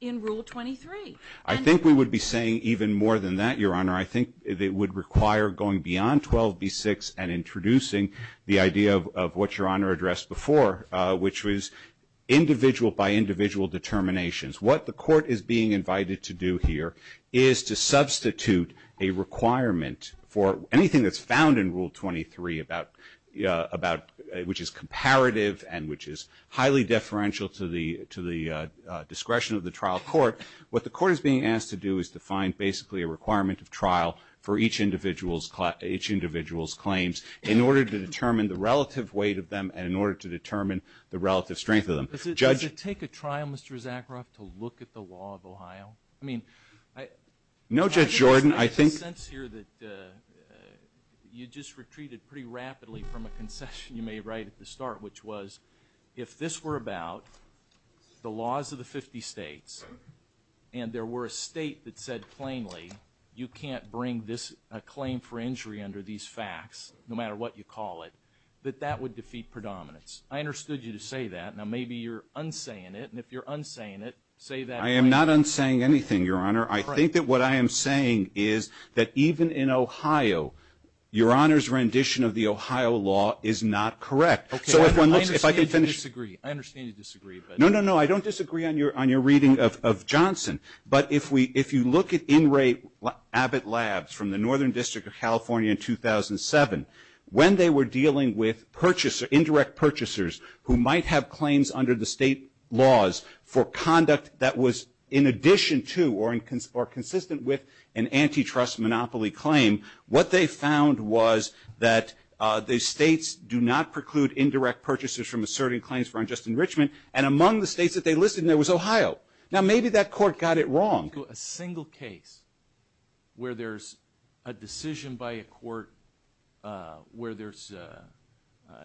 in Rule 23. I think we would be saying even more than that, Your Honor. I think it would require going beyond 12B6 and introducing the idea of what Your Honor addressed before, which was individual by individual determinations. What the Court is being invited to do here is to substitute a requirement for anything that's found in Rule 23, which is comparative and which is highly deferential to the discretion of the trial court. What the Court is being asked to do is to find basically a requirement of trial for each individual's claims, in order to determine the relative weight of them and in order to determine the relative strength of them. Judge? Does it take a trial, Mr. Zakharoff, to look at the law of Ohio? No, Judge Jordan. I think you just retreated pretty rapidly from a concession you made right at the start, which was if this were about the laws of the 50 states and there were a state that said plainly, you can't bring a claim for injury under these facts, no matter what you call it, that that would defeat predominance. I understood you to say that. Now, maybe you're unsaying it, and if you're unsaying it, say that again. I am not unsaying anything, Your Honor. I think that what I am saying is that even in Ohio, Your Honor's rendition of the Ohio law is not correct. Okay. I understand you disagree. I understand you disagree. No, no, no. I don't disagree on your reading of Johnson. But if you look at In Re Abbott Labs from the Northern District of California in 2007, when they were dealing with indirect purchasers who might have claims under the state laws for conduct that was in addition to or consistent with an antitrust monopoly claim, what they found was that the states do not preclude indirect purchasers from asserting claims for unjust enrichment, and among the states that they listed in there was Ohio. Now, maybe that court got it wrong. A single case where there's a decision by a court where there's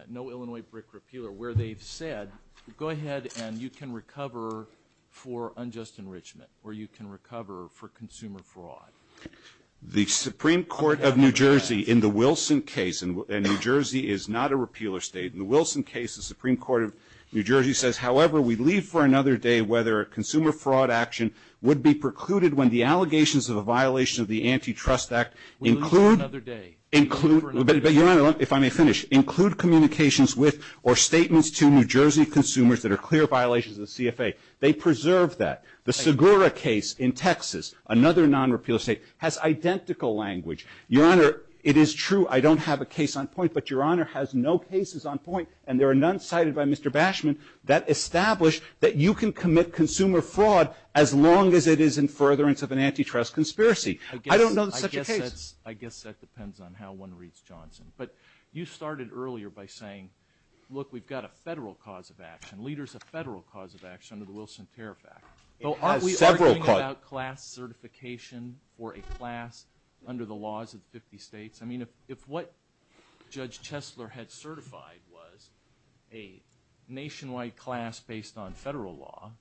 no Illinois brick repealer where they've said, go ahead and you can recover for unjust enrichment or you can recover for consumer fraud. The Supreme Court of New Jersey in the Wilson case, and New Jersey is not a repealer state, in the Wilson case the Supreme Court of New Jersey says, however, we leave for another day whether a consumer fraud action would be precluded when the allegations of a violation of the Antitrust Act include. If I may finish, include communications with or statements to New Jersey consumers that are clear violations of the CFA. They preserve that. The Segura case in Texas, another non-repeal state, has identical language. Your Honor, it is true I don't have a case on point, but Your Honor has no cases on point, and there are none cited by Mr. Bashman that establish that you can commit consumer fraud as long as it is in furtherance of an antitrust conspiracy. I don't know of such a case. I guess that depends on how one reads Johnson. But you started earlier by saying, look, we've got a federal cause of action, leaders of federal cause of action under the Wilson Fairfax Act. Aren't we arguing about class certification for a class under the laws of the 50 states? I mean, if what Judge Tesler had certified was a nationwide class based on federal law,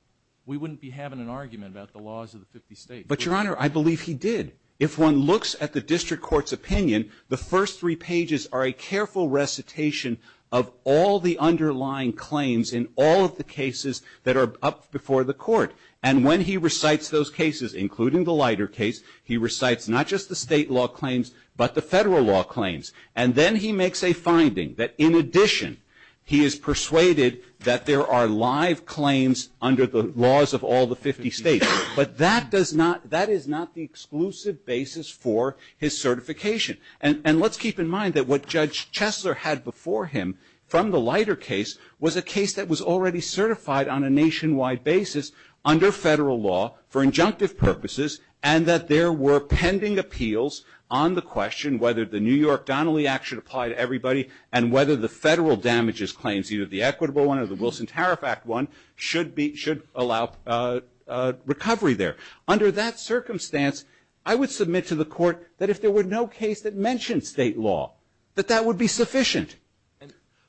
we wouldn't be having an argument about the laws of the 50 states. But, Your Honor, I believe he did. If one looks at the district court's opinion, the first three pages are a careful recitation of all the underlying claims in all of the cases that are up before the court. And when he recites those cases, including the Leiter case, he recites not just the state law claims but the federal law claims. And then he makes a finding that, in addition, he is persuaded that there are live claims under the laws of all the 50 states. But that is not the exclusive basis for his certification. And let's keep in mind that what Judge Tesler had before him from the Leiter case was a case that was already certified on a nationwide basis under federal law for injunctive purposes and that there were pending appeals on the question whether the New York Donnelly Act should apply to everybody and whether the federal damages claims, either the equitable one or the Wilson Fairfax Act one, should allow recovery there. Under that circumstance, I would submit to the court that if there were no case that mentioned state law, that that would be sufficient.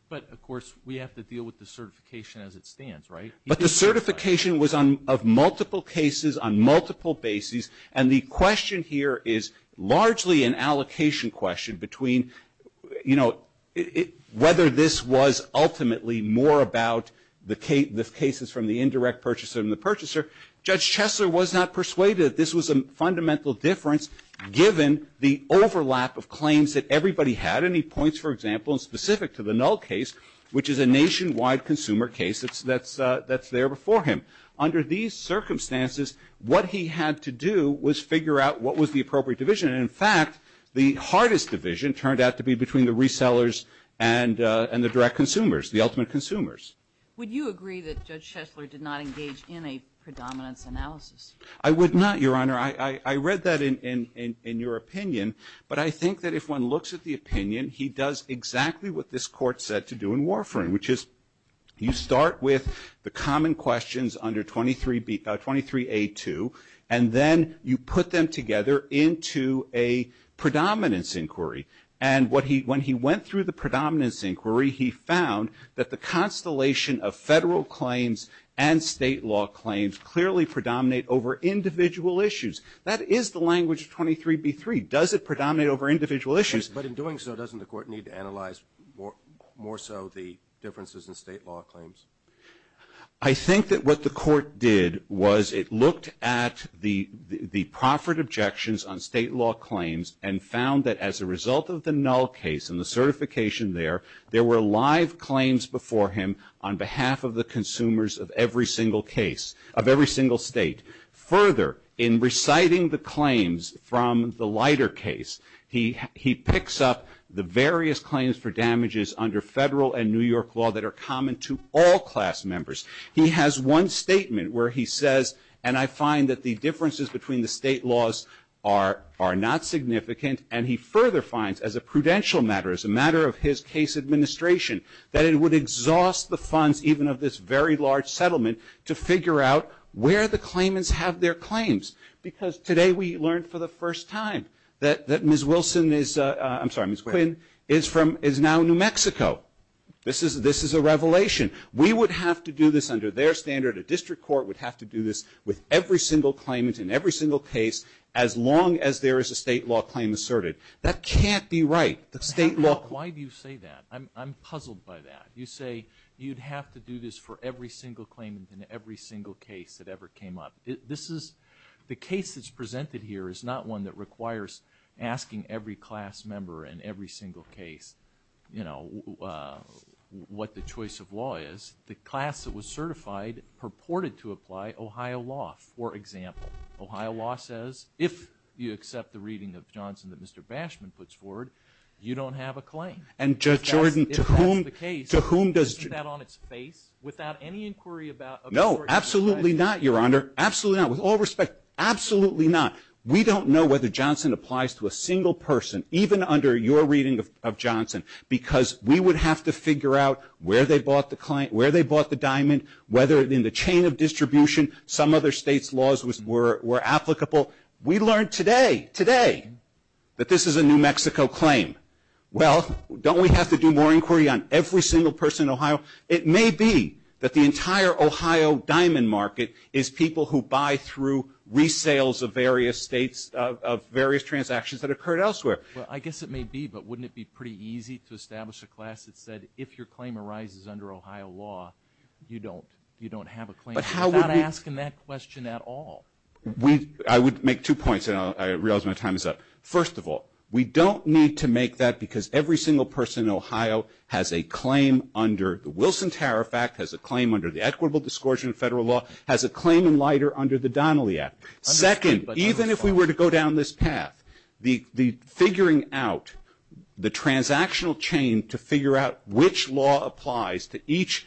But, of course, we have to deal with the certification as it stands, right? But the certification was of multiple cases on multiple bases, and the question here is largely an allocation question between, you know, whether this was ultimately more about the cases from the indirect purchaser than the purchaser. Judge Tesler was not persuaded that this was a fundamental difference given the overlap of claims that everybody had. And he points, for example, in specific to the Null case, which is a nationwide consumer case that's there before him. Under these circumstances, what he had to do was figure out what was the appropriate division. And, in fact, the hardest division turned out to be between the resellers and the direct consumers, the ultimate consumers. Would you agree that Judge Tesler did not engage in a predominant analysis? I would not, Your Honor. I read that in your opinion, but I think that if one looks at the opinion, he does exactly what this court said to do in Warfarin, which is you start with the common questions under 23A2, and then you put them together into a predominance inquiry. And when he went through the predominance inquiry, he found that the constellation of federal claims and state law claims clearly predominate over individual issues. That is the language of 23B3. Does it predominate over individual issues? But in doing so, doesn't the court need to analyze more so the differences in state law claims? I think that what the court did was it looked at the proffered objections on state law claims and found that as a result of the Null case and the certification there, there were live claims before him on behalf of the consumers of every single case, of every single state. Further, in reciting the claims from the lighter case, he picks up the various claims for damages under federal and New York law that are common to all class members. He has one statement where he says, and I find that the differences between the state laws are not significant, and he further finds as a prudential matter, as a matter of his case administration, that it would exhaust the funds even of this very large settlement to figure out where the claimants have their claims. Because today we learned for the first time that Ms. Wilson is now in New Mexico. This is a revelation. We would have to do this under their standard. A district court would have to do this with every single claimant in every single case as long as there is a state law claim asserted. That can't be right. Why do you say that? I'm puzzled by that. You say you'd have to do this for every single claimant in every single case that ever came up. The case that's presented here is not one that requires asking every class member in every single case what the choice of law is. The class that was certified purported to apply Ohio law, for example. Ohio law says if you accept the reading of Johnson that Mr. Bashman puts forward, you don't have a claim. And, Jordan, to whom does... Without any inquiry about... No, absolutely not, Your Honor. Absolutely not. With all respect, absolutely not. We don't know whether Johnson applies to a single person, even under your reading of Johnson, because we would have to figure out where they bought the diamond, whether in the chain of distribution some other state's laws were applicable. We learned today, today, that this is a New Mexico claim. Well, don't we have to do more inquiry on every single person in Ohio? It may be that the entire Ohio diamond market is people who buy through resales of various states, of various transactions that occur elsewhere. I guess it may be, but wouldn't it be pretty easy to establish a class that said, if your claim arises under Ohio law, you don't have a claim, without asking that question at all? I would make two points, and I realize my time is up. First of all, we don't need to make that because every single person in Ohio has a claim under the Wilson Tariff Act, has a claim under the Equitable Discourses in Federal Law, has a claim in Leiter under the Donnelly Act. Second, even if we were to go down this path, the figuring out the transactional chain to figure out which law applies to each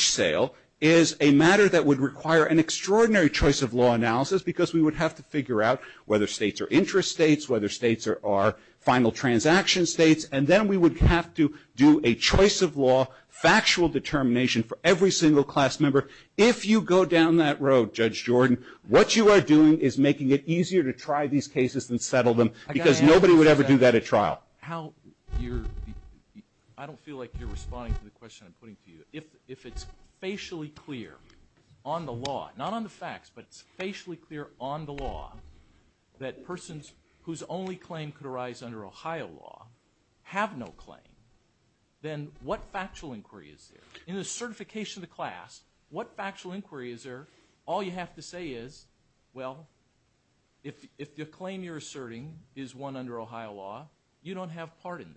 sale is a matter that would require an extraordinary choice of law analysis because we would have to figure out whether states are interest states, whether states are final transaction states, and then we would have to do a choice of law, factual determination for every single class member. If you go down that road, Judge Jordan, what you are doing is making it easier to try these cases and settle them because nobody would ever do that at trial. I don't feel like you're responding to the question I'm putting to you. If it's facially clear on the law, not on the facts, but it's facially clear on the law, that persons whose only claim could arise under Ohio law have no claim, then what factual inquiry is there? In the certification of the class, what factual inquiry is there? All you have to say is, well, if the claim you're asserting is one under Ohio law, you don't have a part in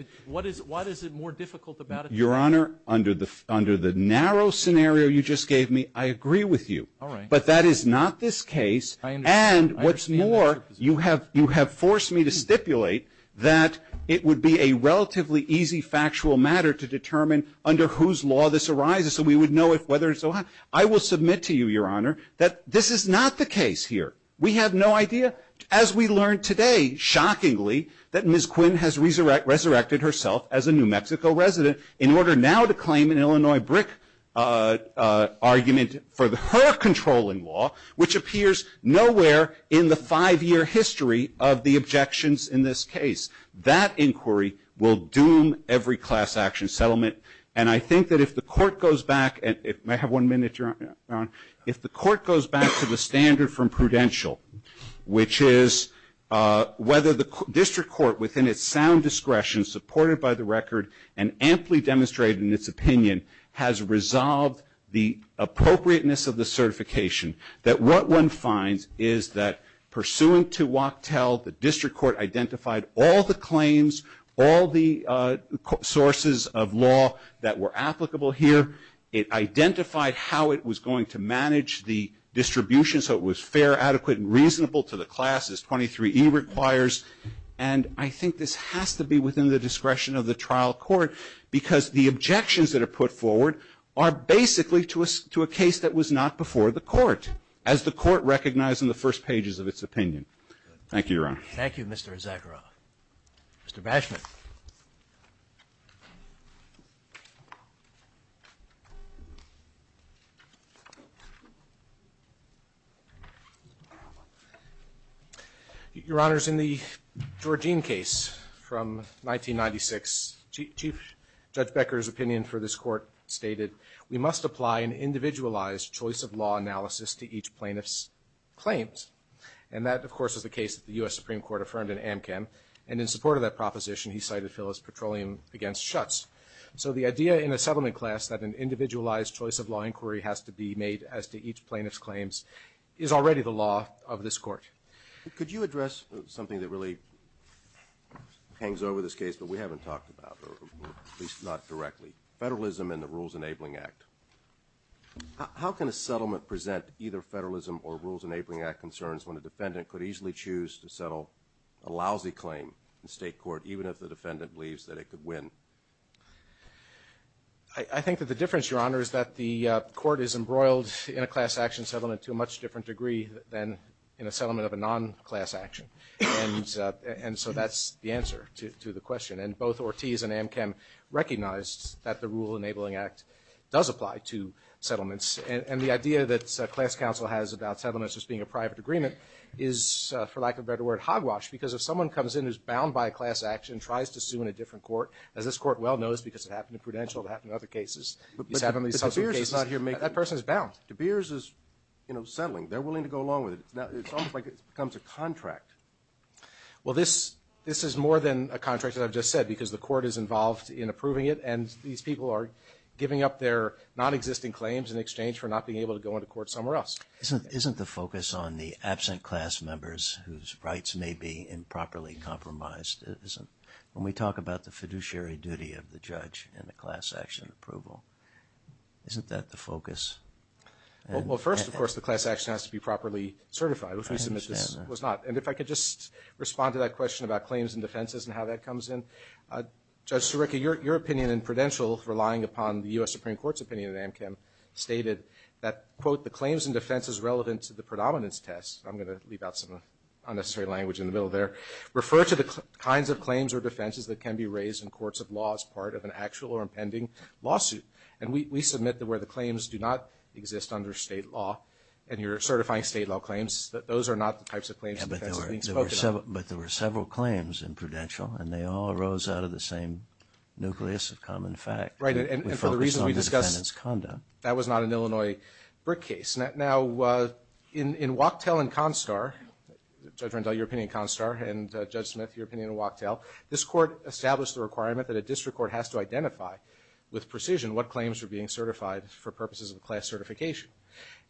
this. Why is it more difficult about it? Your Honor, under the narrow scenario you just gave me, I agree with you, but that is not this case. And what's more, you have forced me to stipulate that it would be a relatively easy factual matter to determine under whose law this arises so we would know whether it's Ohio. I will submit to you, Your Honor, that this is not the case here. We have no idea. As we learned today, shockingly, that Ms. Quinn has resurrected herself as a New Mexico resident in order now to claim an Illinois brick argument for her controlling law, which appears nowhere in the five-year history of the objections in this case. That inquiry will doom every class action settlement, and I think that if the court goes back and I have one minute, Your Honor, if the court goes back to the standard from prudential, which is whether the district court within its sound discretion supported by the record and amply demonstrated in its opinion has resolved the appropriateness of the certification, that what one finds is that pursuant to Wachtell, the district court identified all the claims, all the sources of law that were applicable here. It identified how it was going to manage the distribution so it was fair, adequate, and reasonable to the class as 23E requires. And I think this has to be within the discretion of the trial court because the objections that are put forward are basically to a case that was not before the court as the court recognized in the first pages of its opinion. Thank you, Your Honor. Thank you, Mr. Zagra. Mr. Bashman. Your Honor, in the Georgine case from 1996, Chief Judge Becker's opinion for this court stated, we must apply an individualized choice of law analysis to each plaintiff's claims. And that, of course, is the case that the U.S. Supreme Court affirmed in Amkin, and in support of that proposition, he cited Phyllis Petroleum against Schutz. So the idea in a settlement class that an individualized choice of law inquiry has to be made as to each plaintiff's claims is already the law of this court. Could you address something that really hangs over this case that we haven't talked about, or at least not directly, federalism and the Rules Enabling Act? How can a settlement present either federalism or Rules Enabling Act concerns when a defendant could easily choose to settle a lousy claim in state court, even if the defendant believes that it could win? I think that the difference, Your Honor, is that the court is embroiled in a class action settlement to a much different degree than in a settlement of a non-class action. And so that's the answer to the question. And both Ortiz and Amkin recognized that the Rules Enabling Act does apply to settlements. And the idea that class counsel has about settlements as being a private agreement is, for lack of a better word, hogwash, because if someone comes in who's bound by a class action and tries to sue in a different court, that this court well knows because it happened in Prudential, it happened in other cases. But De Beers is not here making... That person is bound. De Beers is settling. They're willing to go along with it. It's almost like it becomes a contract. Well, this is more than a contract, as I've just said, because the court is involved in approving it, and these people are giving up their nonexistent claims in exchange for not being able to go into court somewhere else. Isn't the focus on the absent class members whose rights may be improperly compromised? When we talk about the fiduciary duty of the judge in the class action approval, isn't that the focus? Well, first, of course, the class action has to be properly certified. If I could just respond to that question about claims and defenses and how that comes in. Judge Turekka, your opinion in Prudential, relying upon the U.S. Supreme Court's opinion in Amchem, stated that, quote, the claims and defenses relevant to the predominance test, I'm going to leave out some unnecessary language in the middle there, refer to the kinds of claims or defenses that can be raised in courts of law as part of an actual or impending lawsuit. And we submit that where the claims do not exist under state law and you're certifying state law claims, that those are not the types of claims and defenses being spoken about. But there were several claims in Prudential, and they all rose out of the same nucleus of common fact. Right, and for the reason we discussed, that was not an Illinois BRIC case. Now, in Wachtell and Constar, it turns out your opinion in Constar, and Judge Smith, your opinion in Wachtell, this court established the requirement that a district court has to identify with precision what claims are being certified for purposes of class certification.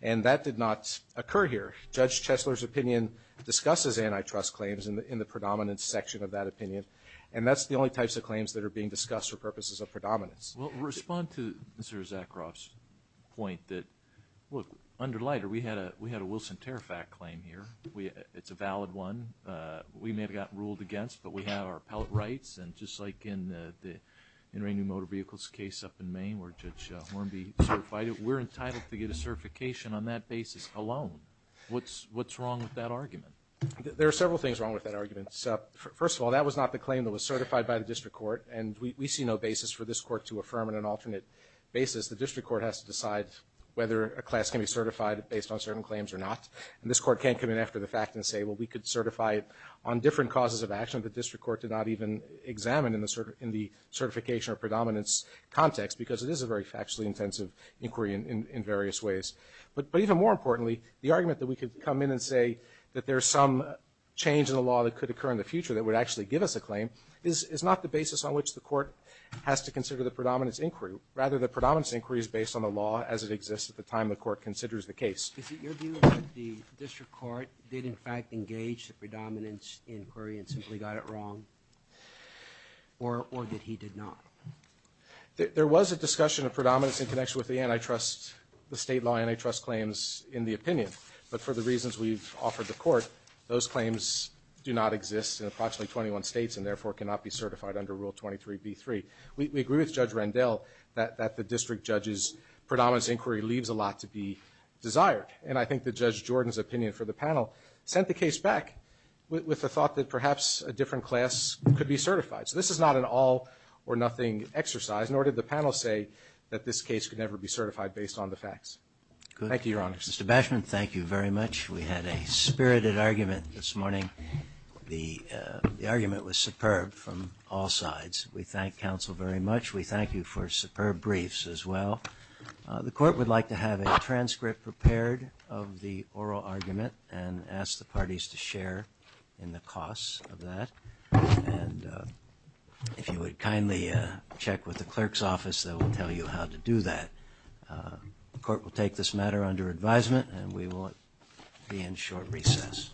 And that did not occur here. Judge Chesler's opinion discusses antitrust claims in the predominance section of that opinion. And that's the only types of claims that are being discussed for purposes of predominance. Well, respond to Mr. Zakaroff's point that, look, under Leiter, we had a Wilson-Tarifac claim here. It's a valid one. We may have gotten ruled against, but we have our appellate rights. And just like in the Inter-Indian Motor Vehicles case up in Maine, where Judge Hornby certified it, we're entitled to get a certification on that basis alone. What's wrong with that argument? There are several things wrong with that argument. First of all, that was not the claim that was certified by the district court, and we see no basis for this court to affirm on an alternate basis. The district court has to decide whether a class can be certified based on certain claims or not. And this court can't come in after the fact and say, well, we could certify it on different causes of action that the district court did not even examine in the certification or predominance context, because it is a very factually intensive inquiry in various ways. But even more importantly, the argument that we could come in and say that there's some change in the law that could occur in the future that would actually give us a claim is not the basis on which the court has to consider the predominance inquiry. Rather, the predominance inquiry is based on the law as it exists at the time the court considers the case. Is it your view that the district court did, in fact, engage the predominance inquiry and simply got it wrong, or that he did not? There was a discussion of predominance in connection with the antitrust, the state law antitrust claims in the opinion. But for the reasons we've offered the court, those claims do not exist in approximately 21 states and therefore cannot be certified under Rule 23b-3. We agree with Judge Rendell that the district judge's predominance inquiry leaves a lot to be desired. And I think that Judge Jordan's opinion for the panel sent the case back with the thought that perhaps a different class could be certified. So this is not an all or nothing exercise, nor did the panel say that this case could never be certified based on the facts. Thank you, Your Honor. Mr. Bashman, thank you very much. We had a spirited argument this morning. The argument was superb from all sides. We thank counsel very much. We thank you for superb briefs as well. The court would like to have a transcript prepared of the oral argument and ask the parties to share in the costs of that. And if you would kindly check with the clerk's office, they will tell you how to do that. The court will take this matter under advisement and we will be in short recess.